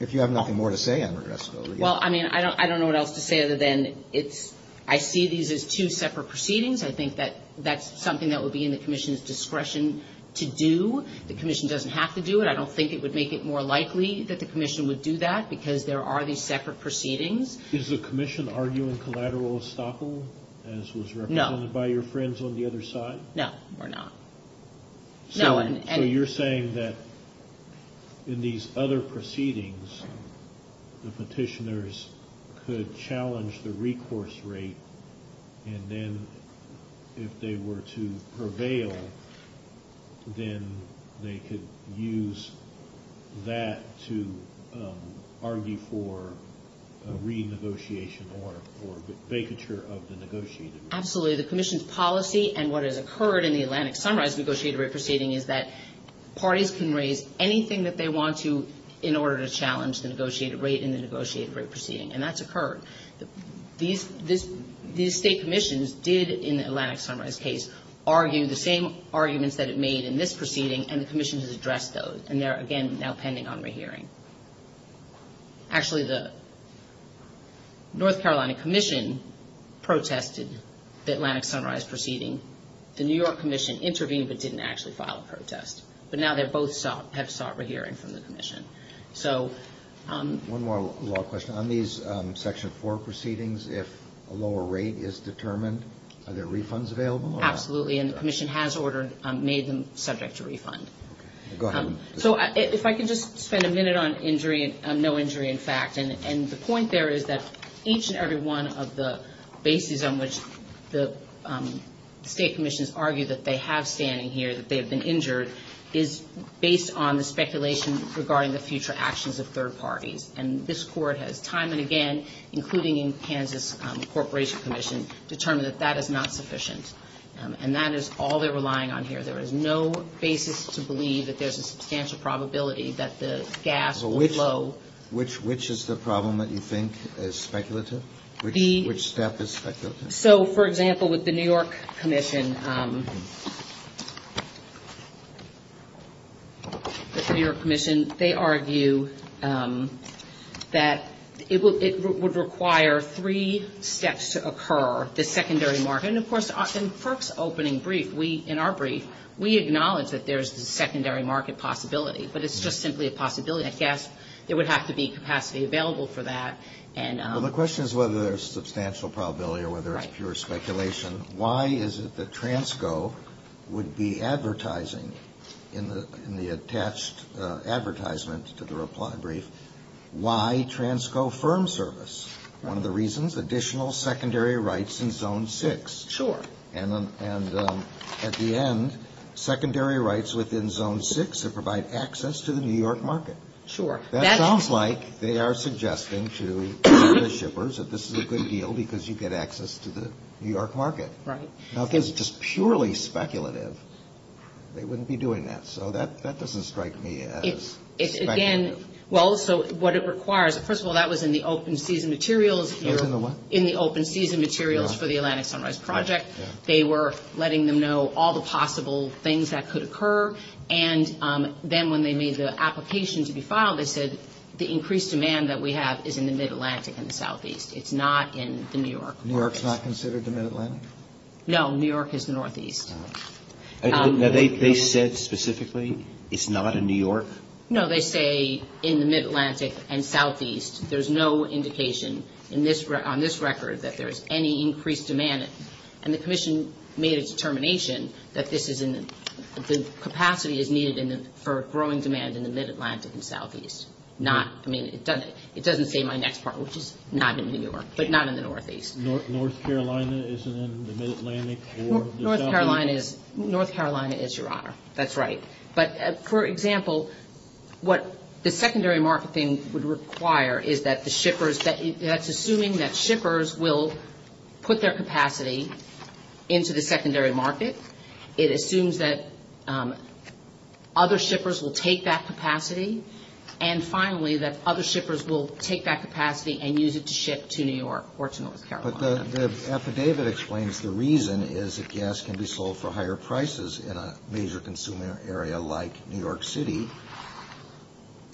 If you have nothing more to say on redressability. Well, I mean, I don't know what else to say other than it's, I see these as two separate proceedings. I think that that's something that would be in the commission's discretion to do. The commission doesn't have to do it. I don't think it would make it more likely that the commission would do that because there are these separate proceedings. Is the commission arguing collateral estoppel as was recommended by your friends on the other side? No, we're not. So you're saying that in these other proceedings, the petitioners could challenge the recourse rate, and then if they were to prevail, then they could use that to argue for a renegotiation or for the vacature of the negotiator? Absolutely. The commission's policy and what has occurred in the Atlantic Sunrise negotiated rate proceeding is that parties can raise anything that they want to in order to challenge the negotiated rate in the negotiated rate proceeding, and that's occurred. These state commissions did, in the Atlantic Sunrise case, argue the same arguments that it made in this proceeding, and the commission has addressed those, and they're, again, now pending on rehearing. Actually, the North Carolina Commission protested the Atlantic Sunrise proceeding. The New York Commission intervened but didn't actually file a protest, but now they both have sought a hearing from the commission. One more law question. On these Section 4 proceedings, if a lower rate is determined, are there refunds available? Absolutely, and the commission has made them subject to refund. Go ahead. So if I could just spend a minute on injury, no injury in fact, and the point there is that each and every one of the bases on which the state commissions argue that they have standing here, that they have been injured, is based on the speculation regarding the future actions of third parties, and this court has time and again, including in Kansas Corporation Commission, determined that that is not sufficient, and that is all they're relying on here. There is no basis to believe that there's a substantial probability that the gas will blow. Which is the problem that you think is speculative? Which step is speculative? So, for example, with the New York Commission, the New York Commission, they argue that it would require three steps to occur. And, of course, in FERC's opening brief, in our brief, we acknowledge that there's a secondary market possibility, but it's just simply a possibility. I guess there would have to be capacity available for that. Well, the question is whether there's substantial probability or whether it's pure speculation. Why is it that Transco would be advertising in the attached advertisements to the reply brief, Why Transco Firm Service? One of the reasons, additional secondary rights in Zone 6. Sure. And at the end, secondary rights within Zone 6 that provide access to the New York market. Sure. That sounds like they are suggesting to the shippers that this is a good deal because you get access to the New York market. Right. Now, if it's just purely speculative, they wouldn't be doing that. So that doesn't strike me as speculative. It's, again, well, so what it requires, first of all, that was in the open season materials here. It was in the what? In the open season materials for the Atlantic Sunrise Project. They were letting them know all the possible things that could occur. And then when they made the application to be filed, they said, the increased demand that we have is in the Mid-Atlantic and the Southeast. It's not in New York. New York's not considered the Mid-Atlantic? No, New York is the Northeast. They said specifically it's not in New York? No, they say in the Mid-Atlantic and Southeast. There's no indication on this record that there is any increased demand. And the Commission made a determination that the capacity is needed for growing demand in the Mid-Atlantic and Southeast. I mean, it doesn't say my next part, which is not in New York, but not in the Northeast. North Carolina isn't in the Mid-Atlantic or the Southeast? North Carolina is, Your Honor. That's right. But, for example, what the secondary marketing would require is that the shippers, that's assuming that shippers will put their capacity into the secondary market. It assumes that other shippers will take that capacity, and finally that other shippers will take that capacity and use it to ship to New York or to North Carolina. But the affidavit explains the reason is that gas can be sold for higher prices in a major consumer area like New York City,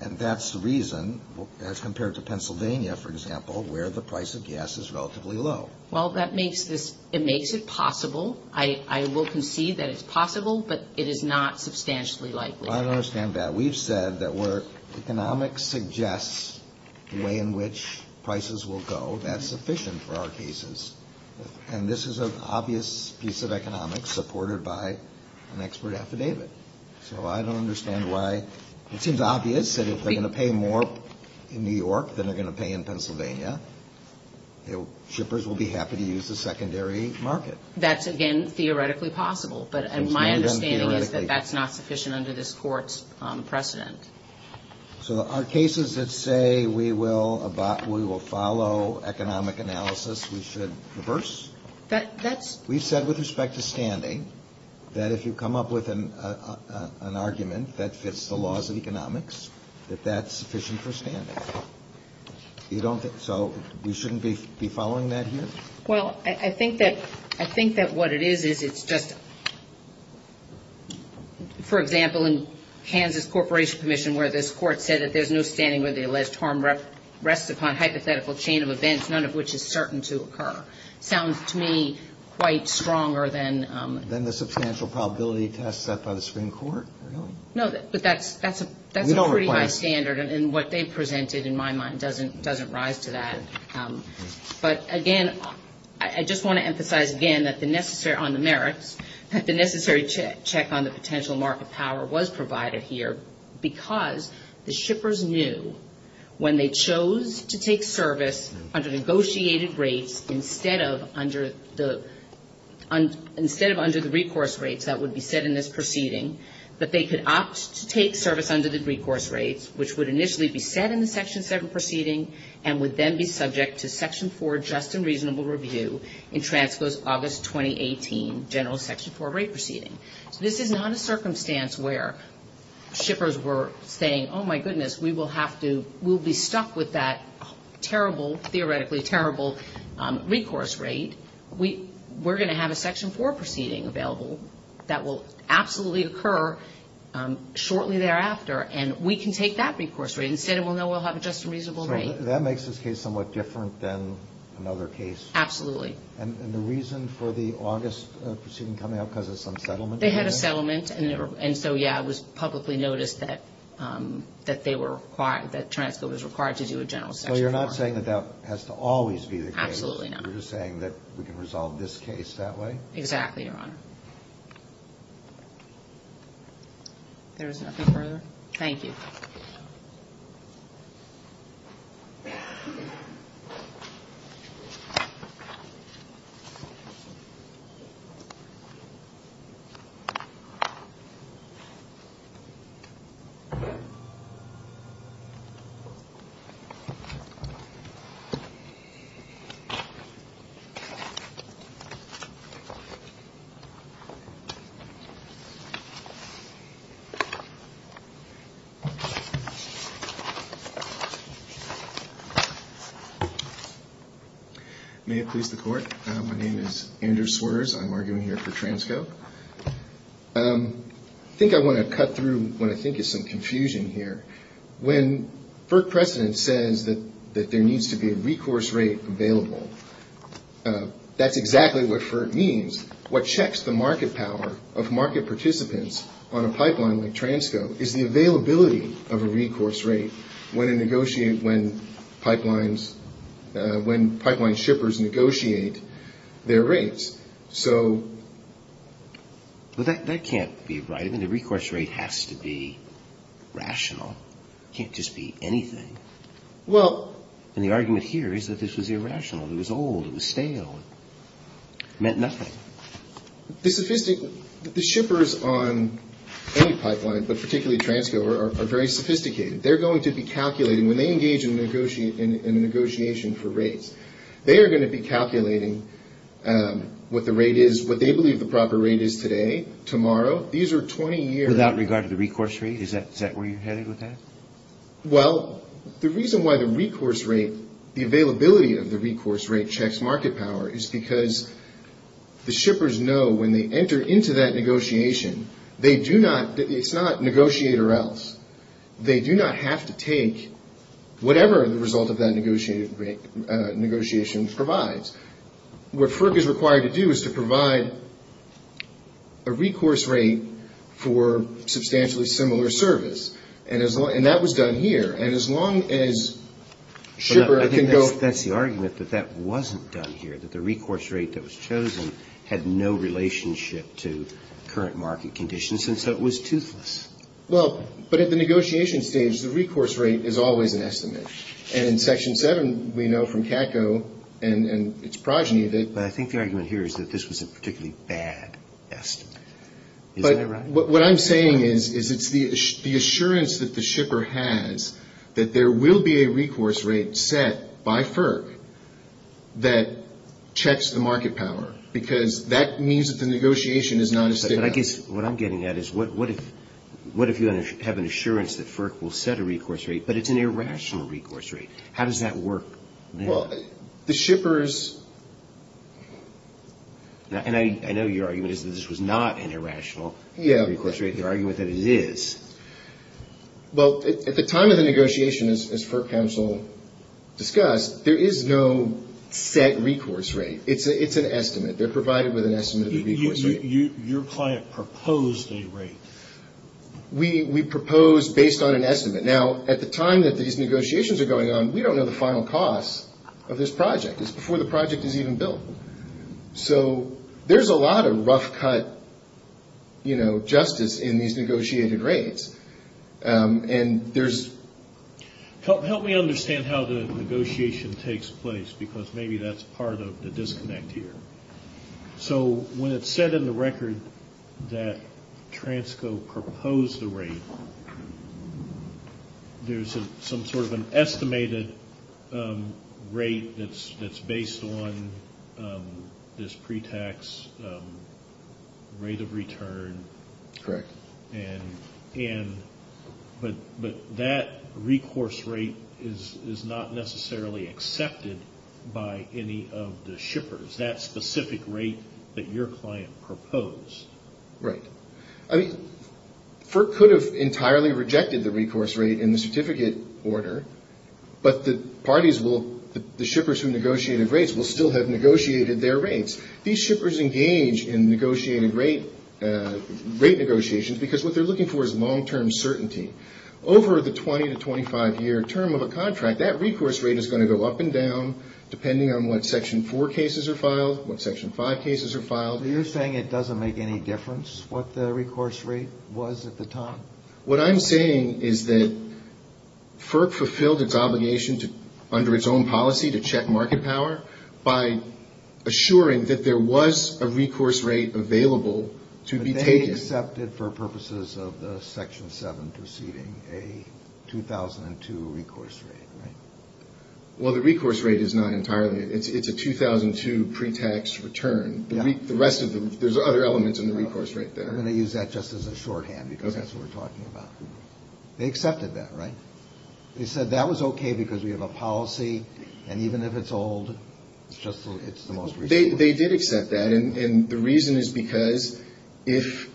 and that's the reason, as compared to Pennsylvania, for example, where the price of gas is relatively low. Well, that makes it possible. I will concede that it's possible, but it is not substantially likely. I understand that. We've said that where economics suggests the way in which prices will go, that's sufficient for our cases, and this is an obvious piece of economics supported by an expert affidavit. So I don't understand why it seems obvious that if they're going to pay more in New York than they're going to pay in Pennsylvania, shippers will be happy to use the secondary market. That's, again, theoretically possible. But my understanding is that that's not sufficient under this Court's precedent. So our cases that say we will follow economic analysis, we should reverse? We said with respect to standing that if you come up with an argument that fits the laws of economics, that that's sufficient for standing. So we shouldn't be following that here? Well, I think that what it is is it's just, for example, in Kansas Corporation Commission, where this Court said that there's no standing where the alleged harm rests upon hypothetical chain of events, none of which is certain to occur. Sounds to me quite stronger than... Than the substantial probability test set by the Supreme Court? No, but that's a pretty good standard, and what they've presented, in my mind, doesn't rise to that. But, again, I just want to emphasize, again, that the necessary, on the merits, that the necessary check on the potential mark of power was provided here because the shippers knew when they chose to take service under negotiated rates instead of under the recourse rates that would be set in this proceeding, that they could opt to take service under the recourse rates, which would initially be set in the Section 7 proceeding and would then be subject to Section 4, Just and Reasonable Review, in Transpose, August 2018, General Section 4 rate proceeding. This is not a circumstance where shippers were saying, oh, my goodness, we will have to, we'll be stuck with that terrible, theoretically terrible, recourse rate. We're going to have a Section 4 proceeding available that will absolutely occur shortly thereafter, and we can take that recourse rate. Instead, we'll know we'll have Just and Reasonable Review. So that makes this case somewhat different than another case? Absolutely. And the reason for the August proceeding coming up because of some settlement? They had a settlement, and so, yeah, it was publicly noticed that they were required, that transfer was required to do a General Section 4. So you're not saying that that has to always be the case? Absolutely not. You're just saying that we can resolve this case that way? Exactly, Your Honor. There is nothing further? Thank you. May it please the Court? My name is Andrew Swears. I'm arguing here for Transco. I think I want to cut through what I think is some confusion here. When FERC precedent says that there needs to be a recourse rate available, that's exactly what FERC means. What checks the market power of market participants on a pipeline like Transco is the availability of a recourse rate when pipeline shippers negotiate their rates. That can't be right, and the recourse rate has to be rational. It can't just be anything. And the argument here is that this was irrational. It was old. It was stale. It meant nothing. The shippers on any pipeline, but particularly Transco, are very sophisticated. They're going to be calculating when they engage in negotiation for rates. They are going to be calculating what the rate is, what they believe the proper rate is today, tomorrow. These are 20 years. Without regard to the recourse rate? Is that where you're headed with that? Well, the reason why the recourse rate, the availability of the recourse rate, checks market power is because the shippers know when they enter into that negotiation, it's not negotiate or else. They do not have to take whatever the result of that negotiation provides. What FERC is required to do is to provide a recourse rate for substantially similar service. And that was done here. And as long as shippers can go- But that's the argument that that wasn't done here, that the recourse rate that was chosen had no relationship to current market conditions, and so it was toothless. Well, but at the negotiation stage, the recourse rate is always an estimate. And Section 7, we know from TACO and its progeny that- But I think the argument here is that this was a particularly bad estimate. Is that right? What I'm saying is it's the assurance that the shipper has that there will be a recourse rate set by FERC that checks the market power, because that means that the negotiation is not as thick as- What I'm getting at is what if you have an assurance that FERC will set a recourse rate, but it's an irrational recourse rate? How does that work? Well, the shippers- And I know your argument is that this was not an irrational- Yeah. Recourse rate is an argument that it is. Well, at the time of the negotiation, as FERC counsel discussed, there is no set recourse rate. It's an estimate. They're provided with an estimate of the recourse rate. Your client proposed a rate. We proposed based on an estimate. Now, at the time that these negotiations are going on, we don't know the final cost of this project. It's before the project is even built. So, there's a lot of rough cut justice in these negotiated rates. Help me understand how the negotiation takes place, because maybe that's part of the disconnect here. So, when it's said in the record that Transco proposed the rate, there's some sort of an estimated rate that's based on this pre-tax rate of return. Correct. But that recourse rate is not necessarily accepted by any of the shippers, that specific rate that your client proposed. Right. I mean, FERC could have entirely rejected the recourse rate in the certificate order, but the parties will, the shippers who negotiated rates will still have negotiated their rates. These shippers engage in negotiated rate negotiations because what they're looking for is long-term certainty. Over the 20 to 25-year term of a contract, that recourse rate is going to go up and down, depending on what Section 4 cases are filed, what Section 5 cases are filed. So, you're saying it doesn't make any difference what the recourse rate was at the time? What I'm saying is that FERC fulfilled its obligation under its own policy to check market power by assuring that there was a recourse rate available to be paid. But they accepted for purposes of the Section 7 proceeding a 2002 recourse rate, right? Well, the recourse rate is not entirely, it's a 2002 pre-tax return. The rest of the, there's other elements in the recourse rate there. I'm going to use that just as a shorthand because that's what we're talking about. They accepted that, right? They said that was okay because we have a policy and even if it's old, it's just, it's the most recent. They did accept that and the reason is because if,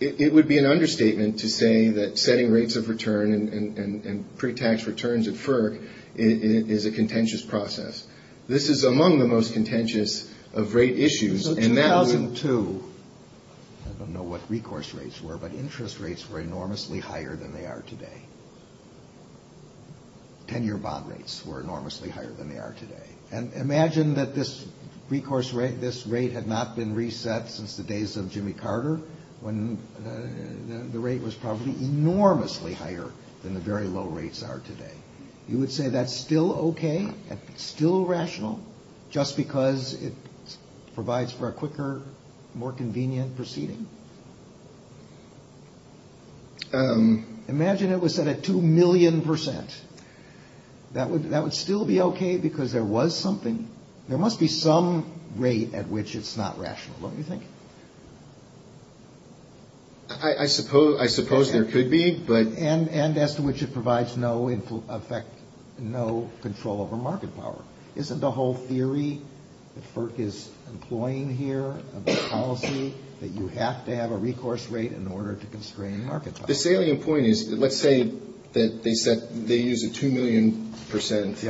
it would be an understatement to say that setting rates of return and pre-tax returns at FERC is a contentious process. This is among the most contentious of rate issues and now in 2002, I don't know what recourse rates were but interest rates were enormously higher than they are today. Ten-year bond rates were enormously higher than they are today. And imagine that this recourse rate, this rate had not been reset since the days of Jimmy Carter when the rate was probably enormously higher than the very low rates are today. You would say that's still okay? That's still rational just because it provides for a quicker, more convenient proceeding? Imagine it was set at 2 million percent. That would still be okay because there was something, there must be some rate at which it's not rational, don't you think? I suppose there could be but... And as to which it provides no effect, no control over market power. Isn't the whole theory that FERC is employing here, the policy that you have to have a recourse rate in order to constrain market power? The salient point is, let's say that they use a 2 million percent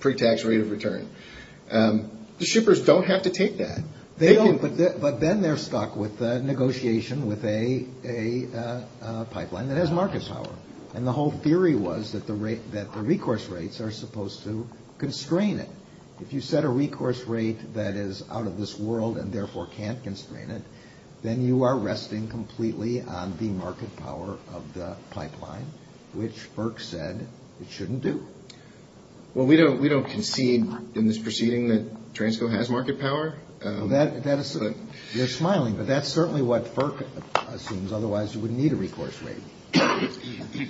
pre-tax rate of return. The shippers don't have to take that. But then they're stuck with negotiation with a pipeline that has market power. And the whole theory was that the recourse rates are supposed to constrain it. If you set a recourse rate that is out of this world and therefore can't constrain it, then you are resting completely on the market power of the pipeline, which FERC said it shouldn't do. Well, we don't concede in this proceeding that Transco has market power. They're smiling, but that's certainly what FERC assumes. Otherwise, you wouldn't need a recourse rate.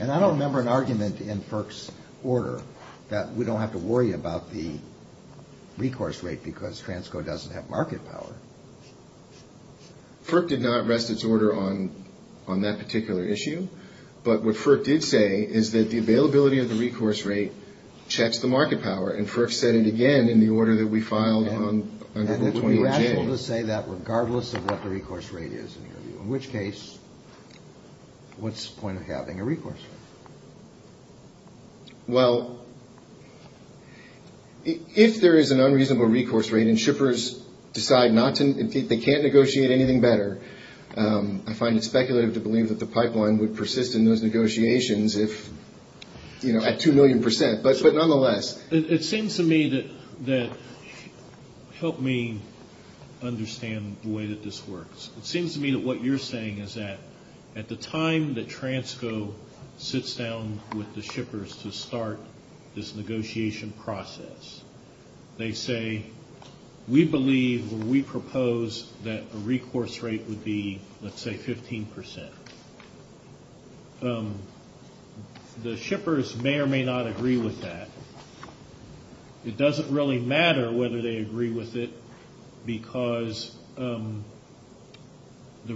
And I don't remember an argument in FERC's order that we don't have to worry about the recourse rate because Transco doesn't have market power. FERC did not rest its order on that particular issue. But what FERC did say is that the availability of the recourse rate checks the market power. And FERC said it again in the order that we filed on November 20th. And it's irrational to say that regardless of what the recourse rate is. In which case, what's the point of having a recourse rate? Well, if there is an unreasonable recourse rate and shippers decide they can't negotiate anything better, I find it speculative to believe that the pipeline would persist in those negotiations if, you know, at 2 million percent. But nonetheless. It seems to me that, help me understand the way that this works. It seems to me that what you're saying is that at the time that Transco sits down with the shippers to start this negotiation process, they say, we believe or we propose that the recourse rate would be, let's say, 15 percent. The shippers may or may not agree with that. It doesn't really matter whether they agree with it because the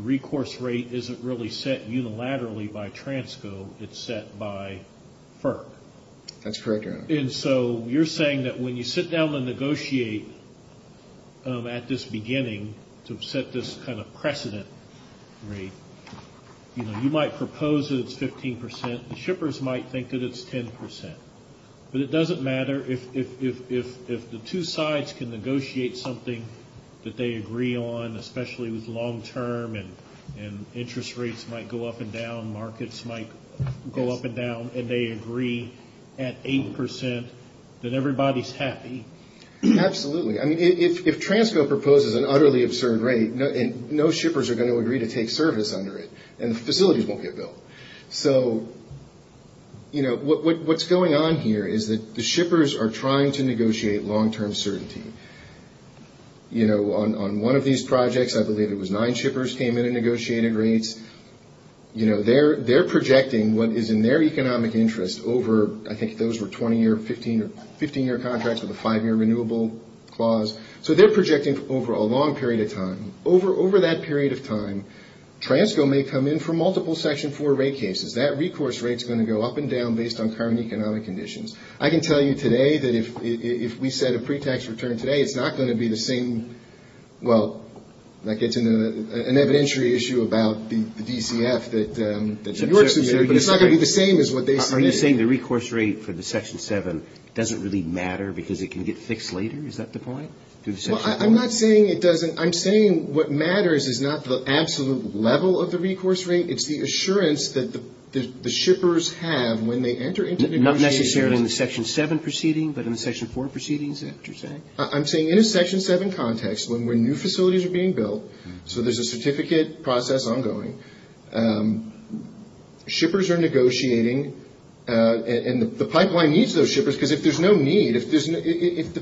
recourse rate isn't really set unilaterally by Transco. It's set by FERC. That's correct, John. And so you're saying that when you sit down and negotiate at this beginning to set this kind of precedent rate, you know, you might propose that it's 15 percent. The shippers might think that it's 10 percent. But it doesn't matter if the two sides can negotiate something that they agree on, especially with long term and interest rates might go up and down, markets might go up and down, and they agree at 8 percent that everybody's happy. Absolutely. I mean, if Transco proposes an utterly absurd rate, no shippers are going to agree to take service under it, and facilities won't get built. So, you know, what's going on here is that the shippers are trying to negotiate long term certainty. You know, on one of these projects, I believe it was nine shippers came in and negotiated rates. You know, they're projecting what is in their economic interest over, I think those were 20-year, 15-year contracts with a five-year renewable clause. So they're projecting over a long period of time. Over that period of time, Transco may come in for multiple Section 4 rate cases. That recourse rate is going to go up and down based on current economic conditions. I can tell you today that if we set a pre-tax return today, it's not going to be the same. Well, that gets into an evidentiary issue about the DCF that's in your community. It's not going to be the same as what they predicted. Are you saying the recourse rate for the Section 7 doesn't really matter because it can get fixed later? Is that the point? I'm not saying it doesn't. I'm saying what matters is not the absolute level of the recourse rate. It's the assurance that the shippers have when they enter into negotiations. Not necessarily in the Section 7 proceeding, but in the Section 4 proceedings, is that what you're saying? I'm saying in a Section 7 context when new facilities are being built, so there's a certificate process ongoing, shippers are negotiating and the pipeline needs those shippers because if there's no need, if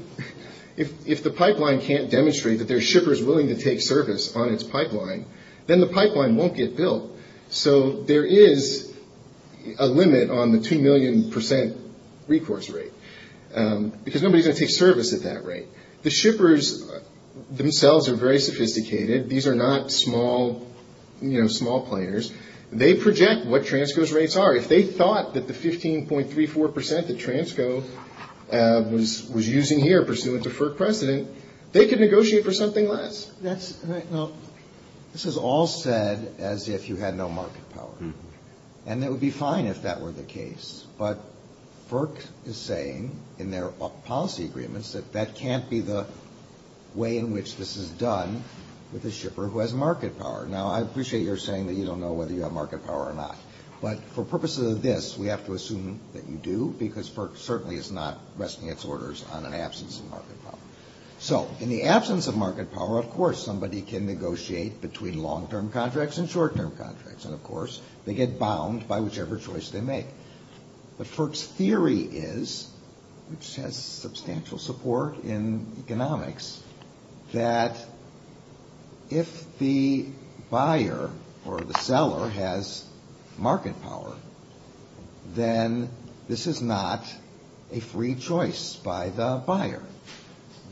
the pipeline can't demonstrate that there's shippers willing to take service on its pipeline, then the pipeline won't get built. So there is a limit on the 2 million percent recourse rate. Because nobody's going to take service at that rate. The shippers themselves are very sophisticated. These are not small planners. They project what TRANSCO's rates are. If they thought that the 15.34 percent that TRANSCO was using here pursuant to FERC precedent, they could negotiate for something less. This is all said as if you had no market power, and it would be fine if that were the case. But FERC is saying in their policy agreements that that can't be the way in which this is done with a shipper who has market power. Now, I appreciate you're saying that you don't know whether you have market power or not. But for purposes of this, we have to assume that you do, because FERC certainly is not resting its orders on an absence of market power. So in the absence of market power, of course somebody can negotiate between long-term contracts and short-term contracts. And, of course, they get bound by whichever choice they make. But FERC's theory is, which has substantial support in economics, that if the buyer or the seller has market power, then this is not a free choice by the buyer.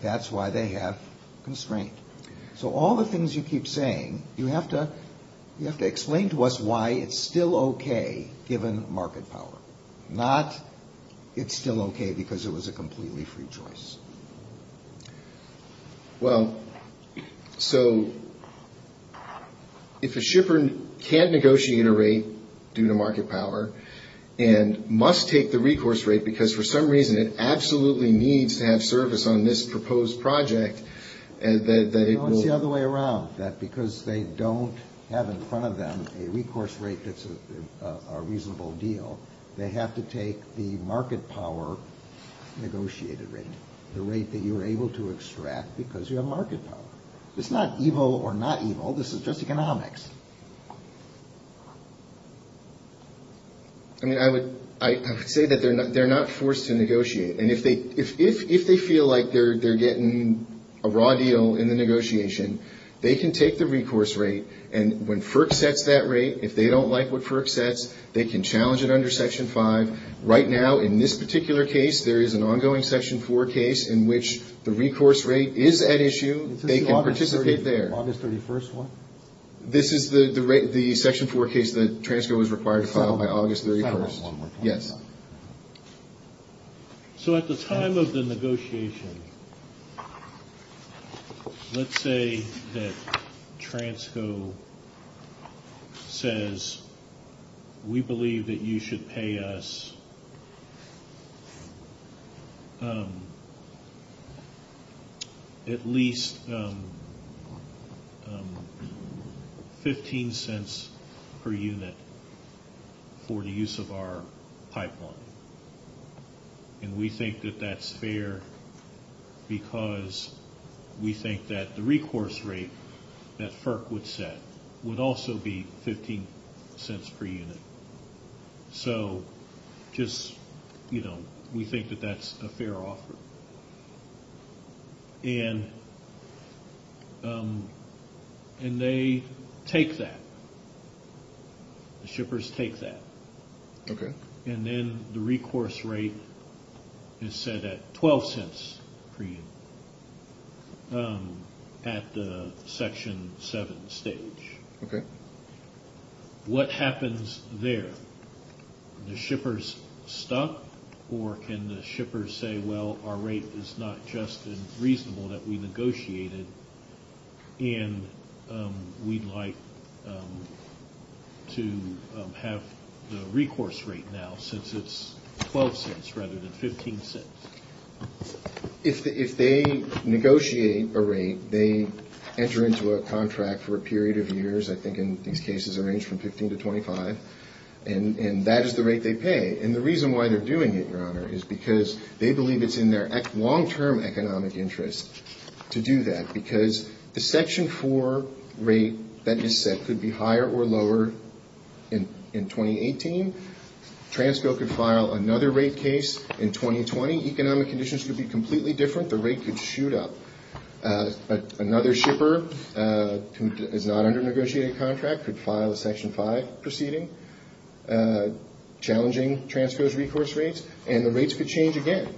That's why they have constraint. So all the things you keep saying, you have to explain to us why it's still okay given market power, not it's still okay because it was a completely free choice. Well, so if the shipper can't negotiate a rate due to market power and must take the recourse rate because for some reason it absolutely needs to have service on this proposed project, Well, it's the other way around. Because they don't have in front of them a recourse rate that's a reasonable deal, they have to take the market power negotiated rate, the rate that you're able to extract because you have market power. It's not evil or not evil, this is just economics. I mean, I would say that they're not forced to negotiate. And if they feel like they're getting a raw deal in the negotiation, they can take the recourse rate. And when FERC sets that rate, if they don't like what FERC sets, they can challenge it under Section 5. Right now, in this particular case, there is an ongoing Section 4 case in which the recourse rate is at issue. They can participate there. This is the Section 4 case that TRANSCO was required to file by August 31st? Yes. So at the time of the negotiation, let's say that TRANSCO says, we believe that you should pay us at least 15 cents per unit for the use of our pipeline. And we think that that's fair because we think that the recourse rate that FERC would set would also be 15 cents per unit. So just, you know, we think that that's a fair offer. And they take that. The shippers take that. Okay. And then the recourse rate is set at 12 cents per unit at the Section 7 stage. Okay. What happens there? The shippers stop, or can the shippers say, well, our rate is not just reasonable that we negotiated, and we'd like to have the recourse rate now since it's 12 cents rather than 15 cents? If they negotiate a rate, they enter into a contract for a period of years, I think in cases that range from 15 to 25, and that is the rate they pay. And the reason why they're doing it, Your Honor, is because they believe it's in their long-term economic interest to do that because the Section 4 rate that is set could be higher or lower in 2018. TRANSCO could file another rate case in 2020. Economic conditions could be completely different. The rate could shoot up. Another shipper who is not under a negotiated contract could file a Section 5 proceeding, challenging TRANSCO's recourse rates, and the rates could change again.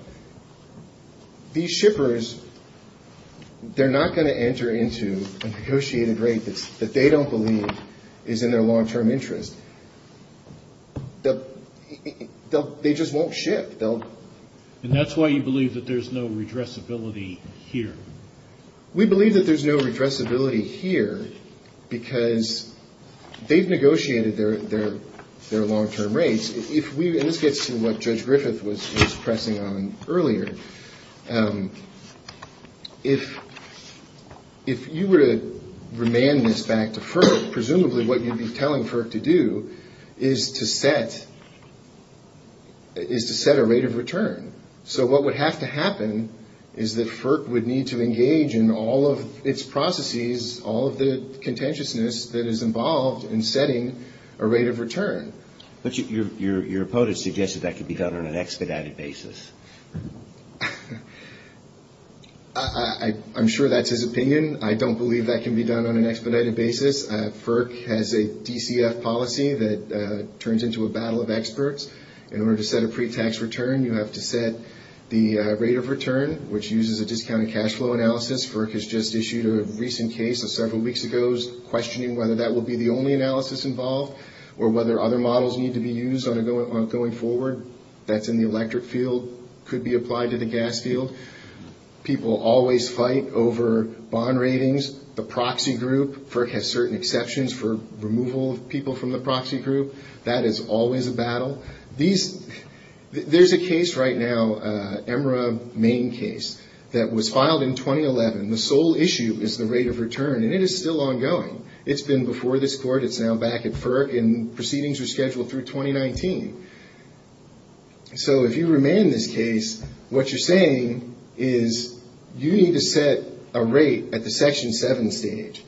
These shippers, they're not going to enter into a negotiated rate that they don't believe is in their long-term interest. They just won't shift. And that's why you believe that there's no redressability here? We believe that there's no redressability here because they've negotiated their long-term rates. Let's get to what Judge Griffith was pressing on earlier. If you were to remand this back to FERC, presumably what you'd be telling FERC to do is to set a rate of return. So what would have to happen is that FERC would need to engage in all of its processes, all of the contentiousness that is involved in setting a rate of return. But your opponent suggested that could be done on an expedited basis. I'm sure that's his opinion. I don't believe that can be done on an expedited basis. FERC has a DCF policy that turns into a battle of experts. In order to set a pre-tax return, you have to set the rate of return, which uses a discounted cash flow analysis. FERC has just issued a recent case several weeks ago, questioning whether that will be the only analysis involved or whether other models need to be used going forward. That's in the electric field. It could be applied to the gas field. People always fight over bond ratings. The proxy group has certain exceptions for removal of people from the proxy group. That is always a battle. There's a case right now, an EMRA main case, that was filed in 2011. The sole issue is the rate of return, and it is still ongoing. It's been before this court. It's now back at FERC, and proceedings are scheduled through 2019. So, if you remain in this case, what you're saying is you need to set a rate at the Section 7 stage.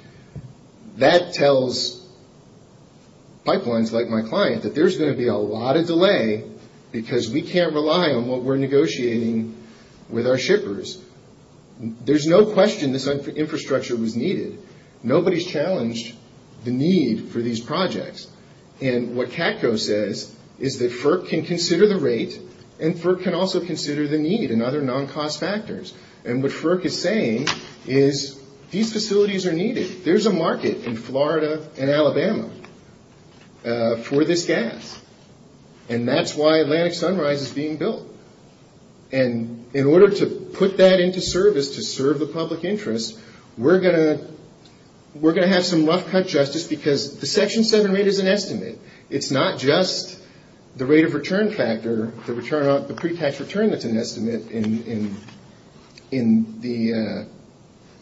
That tells pipelines like my client that there's going to be a lot of delay because we can't rely on what we're negotiating with our shippers. There's no question this infrastructure was needed. Nobody's challenged the need for these projects. And what CATCO says is that FERC can consider the rate, and FERC can also consider the need and other non-cost factors. And what FERC is saying is these facilities are needed. There's a market in Florida and Alabama for this gas, and that's why Atlantic Sunrise is being built. And in order to put that into service, to serve the public interest, we're going to have some rough cut justice because the Section 7 rate is an estimate. It's not just the rate of return factor, the pre-tax return that's an estimate in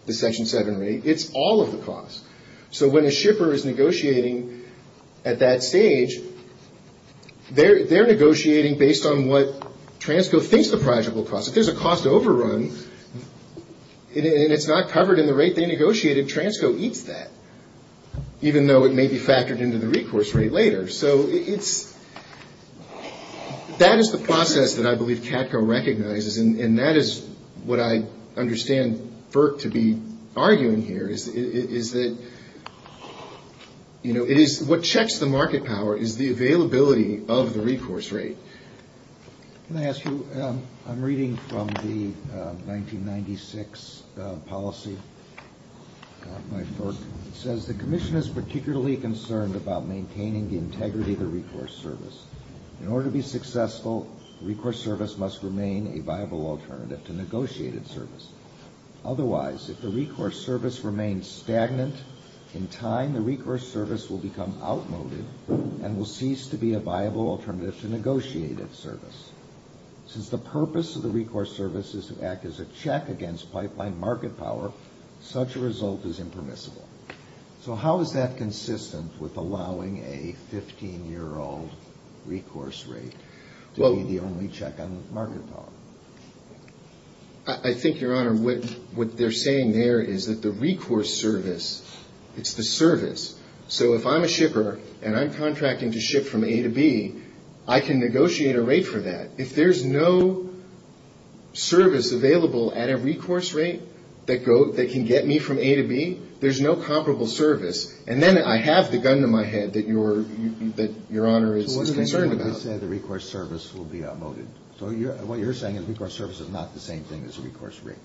the Section 7 rate. It's all of the costs. So when a shipper is negotiating at that stage, they're negotiating based on what TRANSCO thinks the project will cost. If there's a cost overrun and it's not covered in the rate they negotiated, TRANSCO eats that, even though it may be factored into the recourse rate later. So that is the process that I believe CATCO recognizes, and that is what I understand FERC to be arguing here is that, you know, what checks the market power is the availability of the recourse rate. Can I ask you, I'm reading from the 1996 policy, my FERC, it says, The Commission is particularly concerned about maintaining the integrity of the recourse service. In order to be successful, the recourse service must remain a viable alternative to negotiated service. Otherwise, if the recourse service remains stagnant, in time the recourse service will become outmoded and will cease to be a viable alternative to negotiated service. Since the purpose of the recourse service is to act as a check against pipeline market power, such a result is impermissible. So how is that consistent with allowing a 15-year-old recourse rate to be the only check on market power? I think, Your Honor, what they're saying there is that the recourse service is the service. So if I'm a shipper and I'm contracting to ship from A to B, I can negotiate a rate for that. If there's no service available at a recourse rate that can get me from A to B, there's no comparable service. And then I have the gun to my head that Your Honor is concerned about. I understand the recourse service will be outmoded. So what you're saying is recourse service is not the same thing as recourse rate.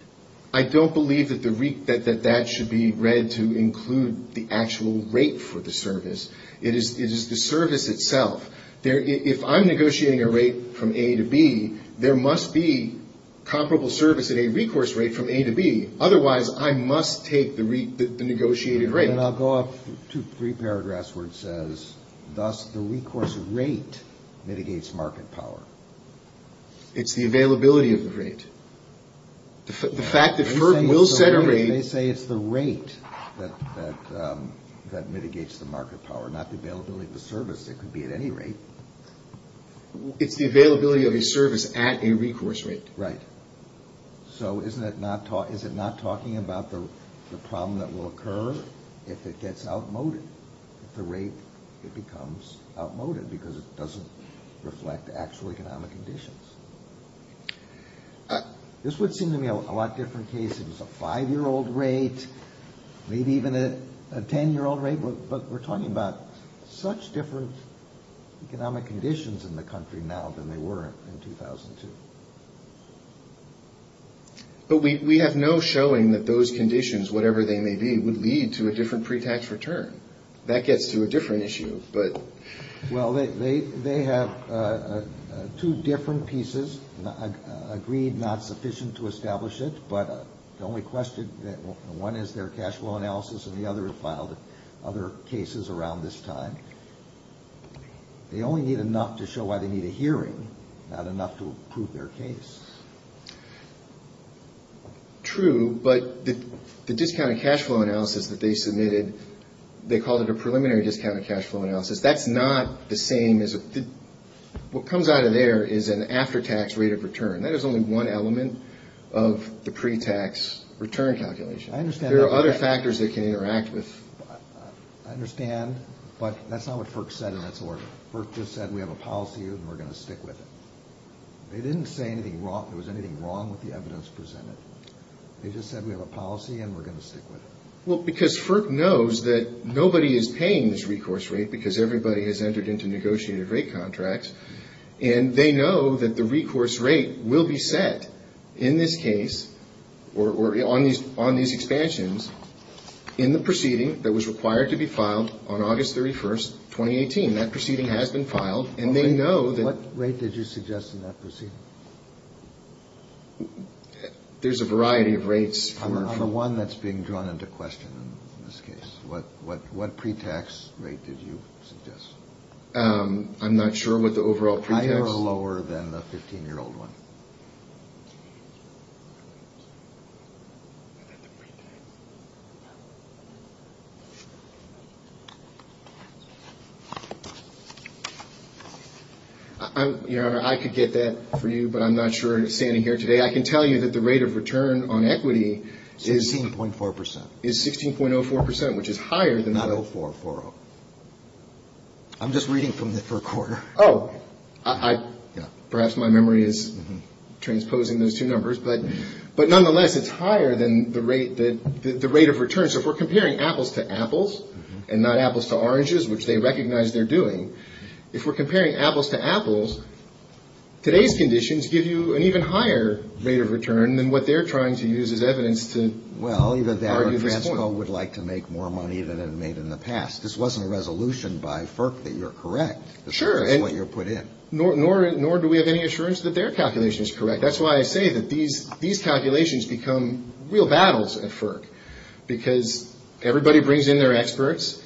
I don't believe that that should be read to include the actual rate for the service. It is the service itself. If I'm negotiating a rate from A to B, there must be comparable service at a recourse rate from A to B. Otherwise, I must take the negotiated rate. And I'll go off to three paragraphs where it says, thus, the recourse rate mitigates market power. It's the availability of the rate. The fact that Herb will set a rate. They say it's the rate that mitigates the market power, not the availability of the service. It could be at any rate. It's the availability of a service at a recourse rate. Right. So is it not talking about the problem that will occur if it gets outmoded, the rate that becomes outmoded, because it doesn't reflect actual economic conditions? This would seem to me a lot different case. It's a five-year-old rate, maybe even a ten-year-old rate. But we're talking about such different economic conditions in the country now than they were in 2002. But we have no showing that those conditions, whatever they may be, would lead to a different pre-tax return. That gets to a different issue. Well, they have two different pieces, agreed not sufficient to establish it, but the only question, one is their cash flow analysis, and the other filed other cases around this time. They only need enough to show why they need a hearing, not enough to prove their case. True, but the discounted cash flow analysis that they submitted, they called it a preliminary discounted cash flow analysis. That's not the same. What comes out of there is an after-tax rate of return. That is only one element of the pre-tax return calculation. There are other factors they can interact with. I understand, but that's not what FERC said in this order. FERC just said we have a policy and we're going to stick with it. They didn't say there was anything wrong with the evidence-preserving. They just said we have a policy and we're going to stick with it. Well, because FERC knows that nobody is paying this recourse rate, because everybody has entered into negotiated rate contracts, and they know that the recourse rate will be set in this case or on these expansions in the proceeding that was required to be filed on August 31, 2018. That proceeding has been filed, and they know that- What rate did you suggest in that proceeding? There's a variety of rates. I'm the one that's being drawn into question in this case. What pre-tax rate did you suggest? I'm not sure what the overall pre-tax- I think it was lower than the 15-year-old one. Your Honor, I could get that for you, but I'm not sure it's standing here today. I can tell you that the rate of return on equity is- 16.4%. The rate of return on equity is 16.04%, which is higher than 0.044. I'm just reading from the FERC order. Oh. Perhaps my memory is transposing those two numbers, but nonetheless, it's higher than the rate of return. So, if we're comparing apples to apples and not apples to oranges, which they recognize they're doing, if we're comparing apples to apples, today's conditions give you an even higher rate of return than what they're trying to use as evidence to argue the point. Well, either that or Transco would like to make more money than it made in the past. This wasn't a resolution by FERC that you're correct. Sure. That's what you put in. Nor do we have any assurance that their calculation is correct. That's why I say that these calculations become real battles at FERC because everybody brings in their experts.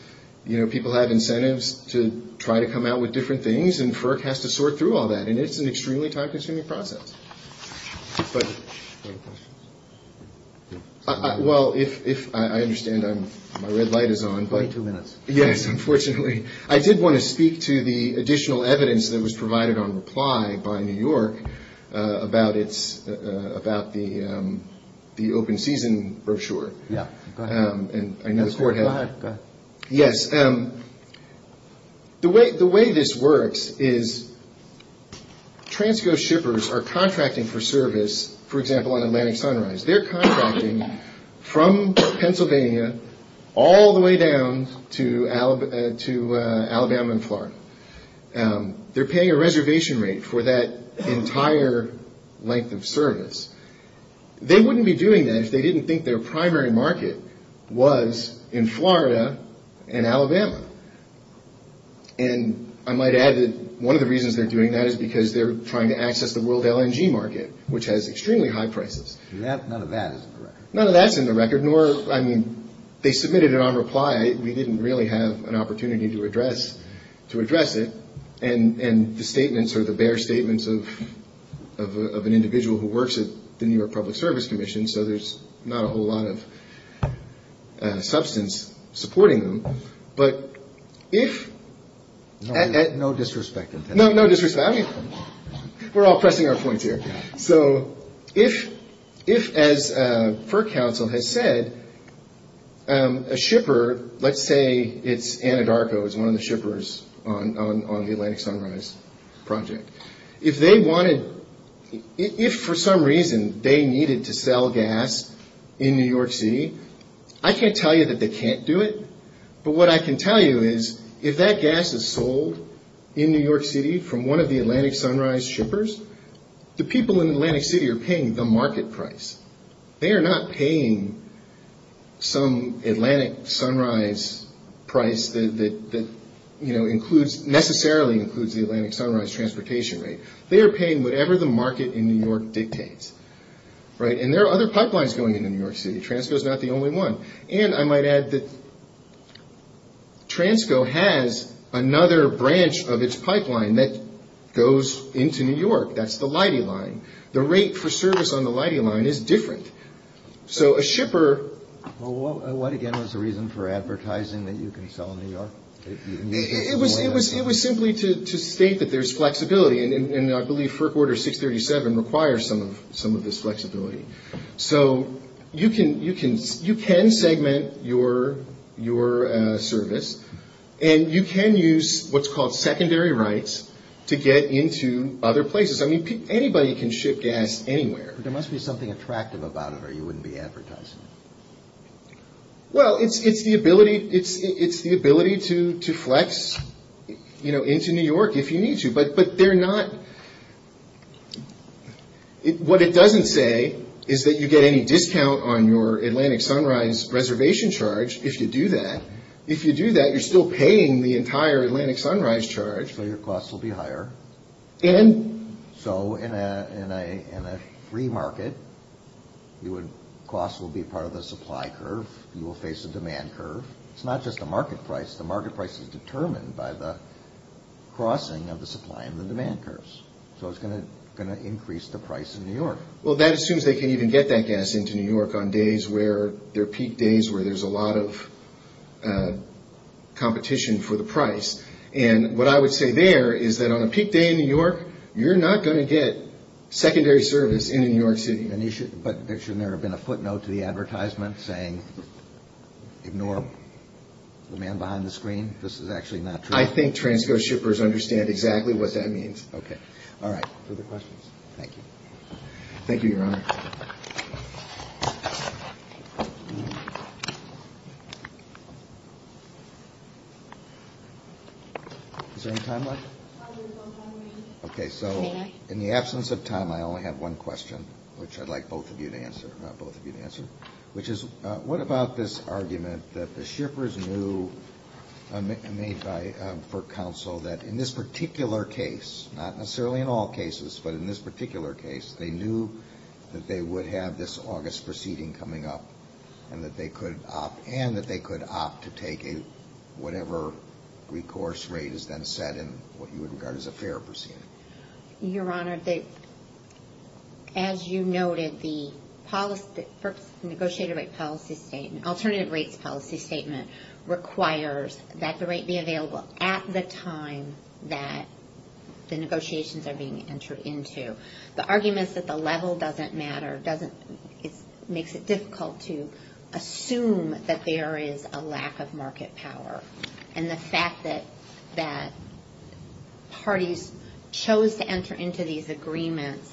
You know, people have incentives to try to come out with different things, and FERC has to sort through all that, and it's an extremely time-consuming process. Go ahead. Well, I understand my red light is on. 22 minutes. Yes, unfortunately. I did want to speak to the additional evidence that was provided on reply by New York about the open season brochure. Yeah. Go ahead. Yes. Okay. The way this works is Transco shippers are contracting for service, for example, on Atlantic Sunrise. They're contracting from Pennsylvania all the way down to Alabama and Florida. They're paying a reservation rate for that entire length of service. They wouldn't be doing that if they didn't think their primary market was in Florida and Alabama. And I might add that one of the reasons they're doing that is because they're trying to access the world LNG market, which has extremely high prices. None of that is in the record. None of that's in the record, nor, I mean, they submitted it on reply. We didn't really have an opportunity to address it, and the statements are the bare statements of an individual who works at the New York Public Service Commission, so there's not a whole lot of substance supporting them. But if... No disrespect. No disrespect. I mean, we're all pressing our point here. So, if, as FERC Council has said, a shipper, let's say it's Anadarko, it's one of the shippers on the Atlantic Sunrise project. If they wanted, if for some reason they needed to sell gas in New York City, I can't tell you that they can't do it, but what I can tell you is if that gas is sold in New York City from one of the Atlantic Sunrise shippers, the people in Atlantic City are paying the market price. They are not paying some Atlantic Sunrise price that, you know, includes, necessarily includes the Atlantic Sunrise transportation rate. They are paying whatever the market in New York dictates, right? And there are other pipelines going into New York City. Transco's not the only one. And I might add that Transco has another branch of its pipeline that goes into New York. That's the Leidy line. The rate for service on the Leidy line is different. So, a shipper... Well, what again was the reason for advertising that you can sell in New York? It was simply to state that there's flexibility, and I believe FERC Order 637 requires some of this flexibility. So, you can segment your service, and you can use what's called secondary rights to get into other places. I mean, anybody can ship gas anywhere. There must be something attractive about it or you wouldn't be advertising. Well, it's the ability to flex, you know, into New York if you need to. But they're not... What it doesn't say is that you get any discount on your Atlantic Sunrise reservation charge if you do that. If you do that, you're still paying the entire Atlantic Sunrise charge. Well, your costs will be higher. And so, in a free market, costs will be part of a supply curve. You will face a demand curve. It's not just a market price. The market price is determined by the crossing of the supply and the demand curves. So, it's going to increase the price in New York. Well, that assumes they can even get that gas into New York on days where there are peak days where there's a lot of competition for the price. And what I would say there is that on a peak day in New York, you're not going to get secondary service in New York City. But shouldn't there have been a footnote to the advertisement saying, ignore the man behind the screen? This is actually not true. I think transgress shippers understand exactly what that means. Okay. All right. Further questions? Thank you. Thank you, Your Honor. Is there any time left? Okay. So, in the absence of time, I only have one question, which I'd like both of you to answer, not both of you to answer, which is what about this argument that the shippers knew made by Brook Council that in this particular case, not necessarily in all cases, but in this particular case, they knew that they would have this August proceeding coming up and that they could opt to take whatever recourse rate is then set in what you would regard as a fair proceeding? Your Honor, as you noted, the negotiated rate policy statement, alternative rates policy statement requires that the rate be available at the time that the negotiations are being entered into. The argument is that the level doesn't matter, it makes it difficult to assume that there is a lack of market power. And the fact that parties chose to enter into these agreements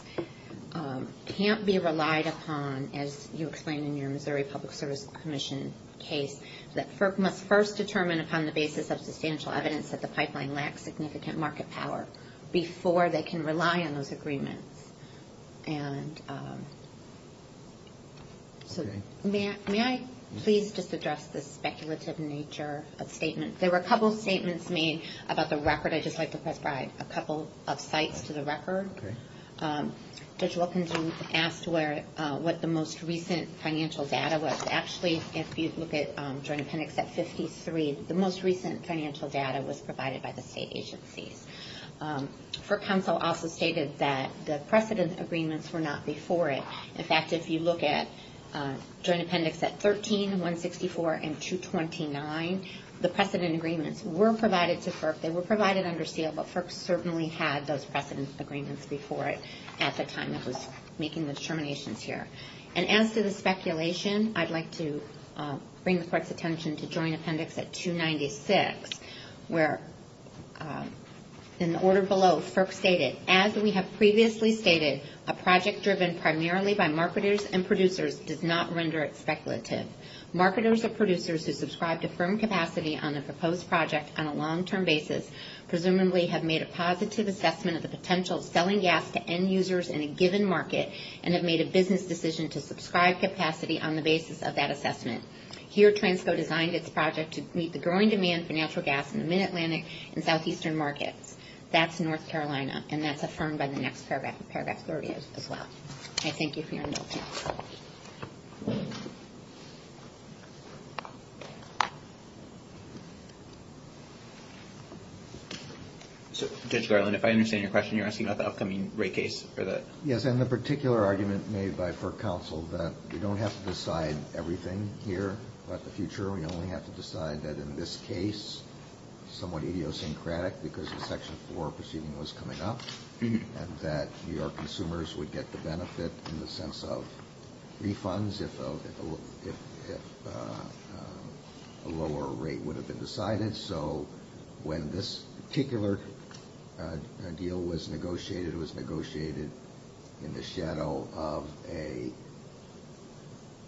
can't be relied upon, as you explained in your Missouri Public Service Commission case, that must first determine upon the basis of substantial evidence that the pipeline lacks significant market power before they can rely on those agreements. And may I please just address the speculative nature of statements? There were a couple of statements made about the record. I'd just like to prescribe a couple of sites for the record. Judge Wilkinson asked what the most recent financial data was. Actually, if you look at Joint Clinics at 53, the most recent financial data was provided by the state agencies. FERC counsel also stated that the precedent agreements were not before it. In fact, if you look at Joint Appendix at 13, 164, and 229, the precedent agreements were provided to FERC. They were provided under SEAL, but FERC certainly had those precedent agreements before it at the time it was making the determinations here. And as to the speculation, I'd like to bring the Court's attention to Joint Appendix at 296, where in the order below, FERC stated, as we have previously stated, a project driven primarily by marketers and producers does not render it speculative. Marketers or producers who subscribe to firm capacity on a proposed project on a long-term basis presumably have made a positive assessment of the potential selling gap to end users in a given market and have made a business decision to subscribe capacity on the basis of that assessment. Here, TRANSCO designed its project to meet the growing demand for natural gas in the Mid-Atlantic and Southeastern markets. That's North Carolina, and that's affirmed by the next paragraph there it is as well. I thank you for your attention. Judge Garland, if I understand your question, you're asking about the upcoming rate case? Yes, and the particular argument made by FERC counsel that we don't have to decide everything. Here, about the future, we only have to decide that in this case, somewhat idiosyncratic, because the Section 4 proceeding was coming up, and that New York consumers would get the benefit in the sense of refunds if a lower rate would have been decided. So when this particular deal was negotiated, it was negotiated in the shadow of a,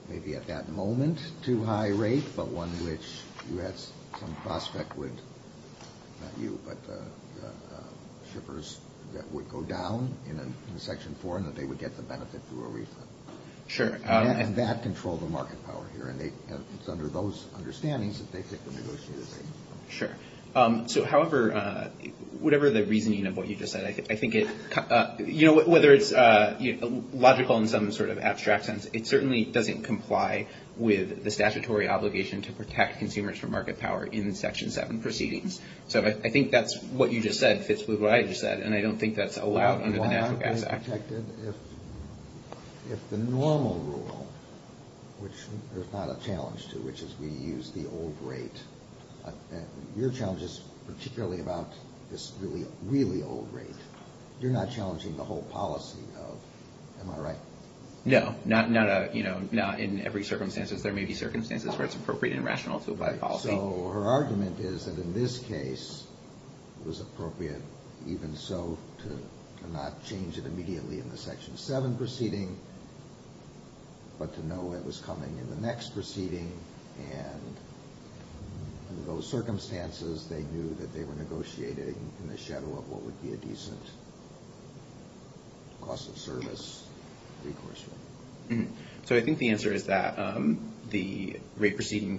maybe at that moment, too high rate, but one which you had some prospect with the shippers that would go down in Section 4 and that they would get the benefit through a refund. Sure. And that controlled the market power here, and it's under those understandings that they took the negotiations. Sure. So however, whatever the reasoning of what you just said, I think it, you know, whether it's logical in some sort of abstract sense, it certainly doesn't comply with the statutory obligation to protect consumers from market power in Section 7 proceedings. So I think that's what you just said fits with what I just said, and I don't think that's allowed under the NAFTA Act. If the normal rule, which there's not a challenge to, which is we use the old rate, your challenge is particularly about this really, really old rate. You're not challenging the whole policy of, am I right? No, not in every circumstance. There may be circumstances where it's appropriate and rational to abide by the policy. So her argument is that in this case it was appropriate even so to not change it immediately in the Section 7 proceeding, but to know it was coming in the next proceeding, and under those circumstances they knew that they were negotiating in the shadow of what would be a decent cost of service. So I think the answer is that the rate proceeding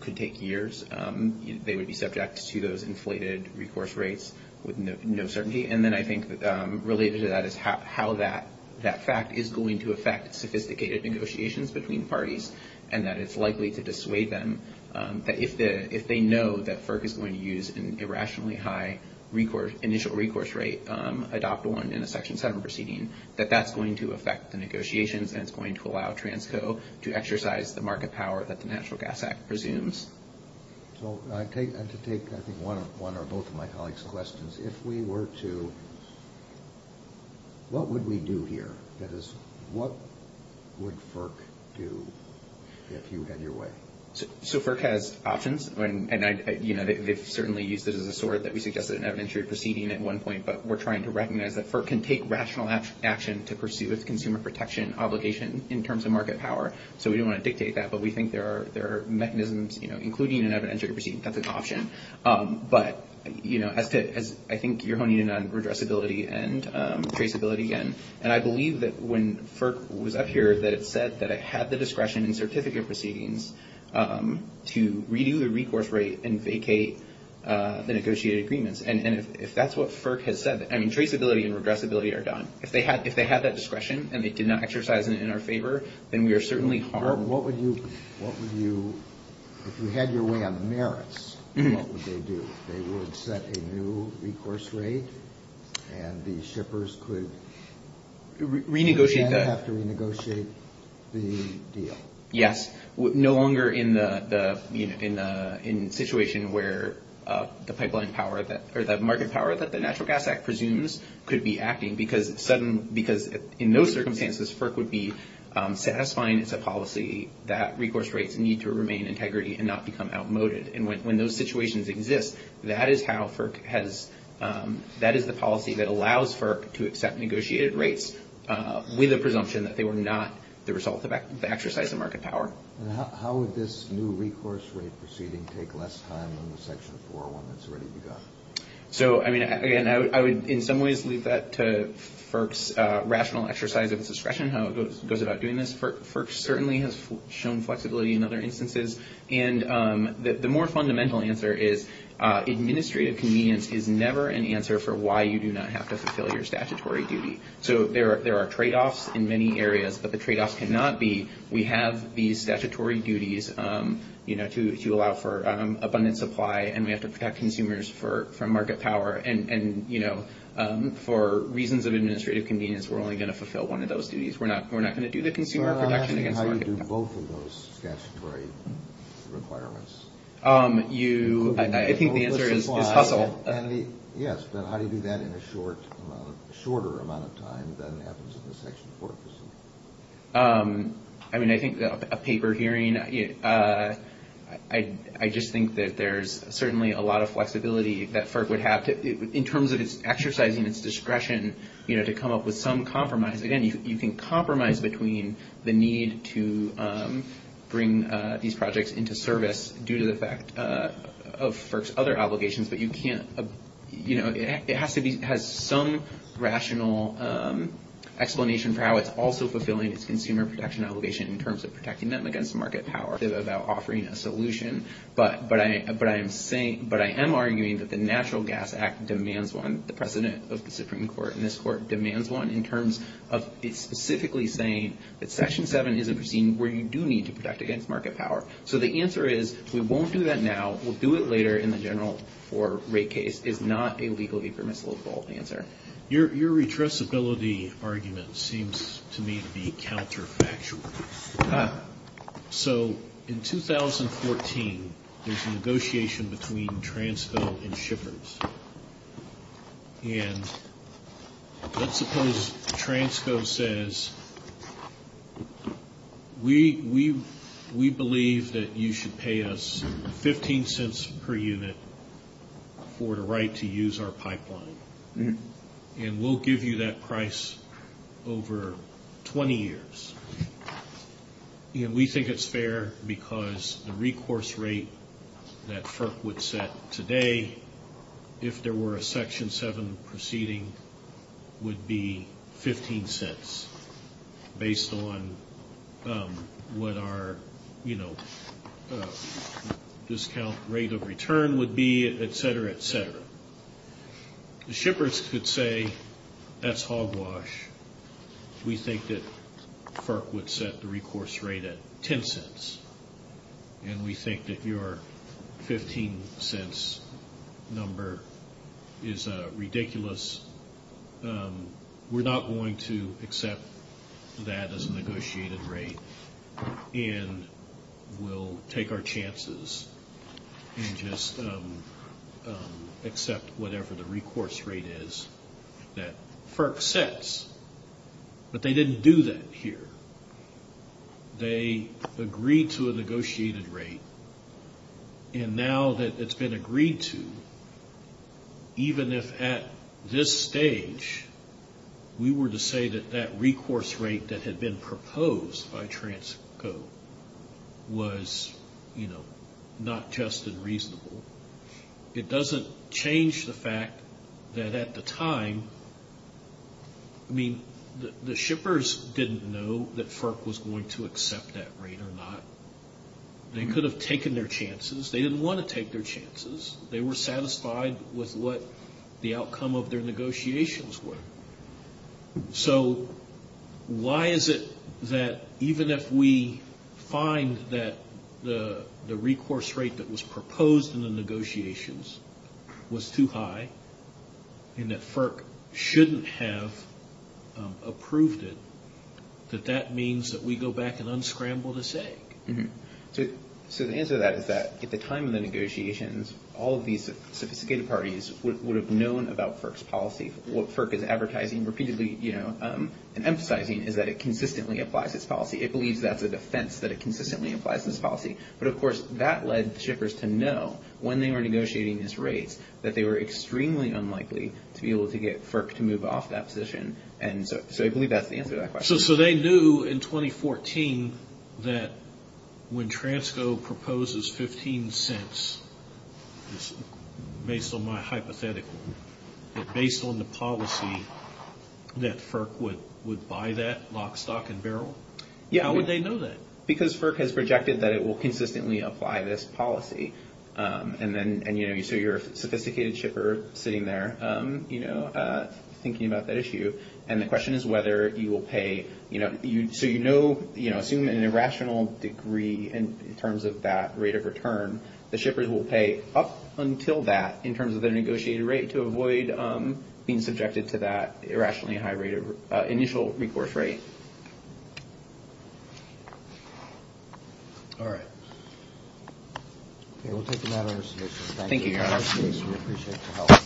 could take years. They would be subject to those inflated recourse rates with no certainty, and then I think related to that is how that fact is going to affect sophisticated negotiations between parties, and that it's likely to dissuade them that if they know that FERC is going to use an irrationally high initial recourse rate, adopt one in a Section 7 proceeding, that that's going to affect the negotiations and it's going to allow Transco to exercise the market power that the National Gas Act presumes. So I'd like to take, I think, one or both of my colleagues' questions. If we were to, what would we do here? That is, what would FERC do if you had your way? So FERC has options, and, you know, they've certainly used this as a sword that we suggested in an evidentiary proceeding at one point, but we're trying to recognize that FERC can take rational action to pursue its consumer protection obligation in terms of market power. So we don't want to dictate that, but we think there are mechanisms, you know, including an evidentiary proceeding that's an option, but, you know, I think you're honing in on redressability and traceability again, and I believe that when FERC was up here that it said that it had the discretion in certificate proceedings to renew the recourse rate and vacate the negotiated agreements. And if that's what FERC has said, I mean, traceability and redressability are done. If they had that discretion and they did not exercise it in our favor, then we are certainly harmed. What would you, if you had your way on the merits, what would they do? They would set a new recourse rate and the shippers could... Renegotiate that. ...they would have to renegotiate the deal. Yes. No longer in the situation where the pipeline power or the market power that the Natural Gas Act presumes could be acting because in those circumstances FERC would be satisfying its policy that recourse rates need to remain integrity and not become outmoded. And when those situations exist, that is how FERC has... How would this new recourse rate proceeding take less time than the Section 401 that's already begun? So, I mean, again, I would in some ways leave that to FERC's rational exercise of discretion, how it goes about doing this. FERC certainly has shown flexibility in other instances. And the more fundamental answer is administrative convenience is never an answer for why you do not have to fulfill your statutory duty. So there are tradeoffs in many areas, but the tradeoff cannot be we have these statutory duties, you know, to allow for abundant supply and we have to protect consumers from market power. And, you know, for reasons of administrative convenience, we're only going to fulfill one of those duties. We're not going to do the consumer production again. How do you do both of those statutory requirements? You... I think the answer is the puzzle. Yes, but how do you do that in a shorter amount of time than it happens in the Section 404? I mean, I think a paper hearing, I just think that there's certainly a lot of flexibility that FERC would have to, in terms of its exercising its discretion, you know, to come up with some compromise. Again, you can compromise between the need to bring these projects into service due to the fact of FERC's other obligations, but you can't... You know, it has to be... It has some rational explanation for how it's also fulfilling its consumer production obligation in terms of protecting them against market power. It's about offering a solution, but I am saying... But I am arguing that the Natural Gas Act demands one. The president of the Supreme Court in this court demands one in terms of specifically saying that Section 7 is a regime where you do need to protect against market power. So the answer is we won't do that now. We'll do it later in the general rate case. It's not a legally permissible default answer. Your redressability argument seems to me to be counterfactual. Ah. So in 2014, there's a negotiation between Transco and Schiffers, and let's suppose Transco says, we believe that you should pay us 15 cents per unit for the right to use our pipeline, and we'll give you that price over 20 years. You know, we think it's fair because the recourse rate that FERC would set today, if there were a Section 7 proceeding, would be 15 cents, based on what our, you know, discount rate of return would be, et cetera, et cetera. Schiffers could say, that's hogwash. We think that FERC would set the recourse rate at 10 cents, and we think that your 15 cents number is ridiculous. We're not going to accept that as a negotiated rate, and we'll take our chances and just accept whatever the recourse rate is that FERC sets, but they didn't do that here. They agreed to a negotiated rate, and now that it's been agreed to, even if at this stage we were to say that that recourse rate that had been proposed by Transco was, you know, not just and reasonable, it doesn't change the fact that at the time, I mean, the Schiffers didn't know that FERC was going to accept that rate or not. They could have taken their chances. They didn't want to take their chances. They were satisfied with what the outcome of their negotiations were. So why is it that even if we find that the recourse rate that was proposed in the negotiations was too high and that FERC shouldn't have approved it, that that means that we go back and unscramble to say? So the answer to that is that at the time of the negotiations, all of these sophisticated parties would have known about FERC's policy, and I think what FERC is advertising repeatedly, you know, and emphasizing is that it consistently applies its policy. It believes that's a defense that it consistently applies its policy. But, of course, that led Schiffers to know when they were negotiating this rate that they were extremely unlikely to be able to get FERC to move off that position, and so I believe that's the answer to that question. So they knew in 2014 that when Transco proposes 15 cents, it's based on my hypothetical, but based on the policy that FERC would buy that lock, stock, and barrel? Yeah. How would they know that? Because FERC has projected that it will consistently apply this policy, and, you know, so you're a sophisticated shipper sitting there, you know, thinking about that issue, and the question is whether you will pay, you know, so you know, you know, assuming an irrational degree in terms of that rate of return, the shippers will pay up until that in terms of the negotiated rate to avoid being subjected to that irrationally high rate of initial recourse rate. All right. We'll take a matter of submission. Thank you very much. Thank you. We appreciate your help.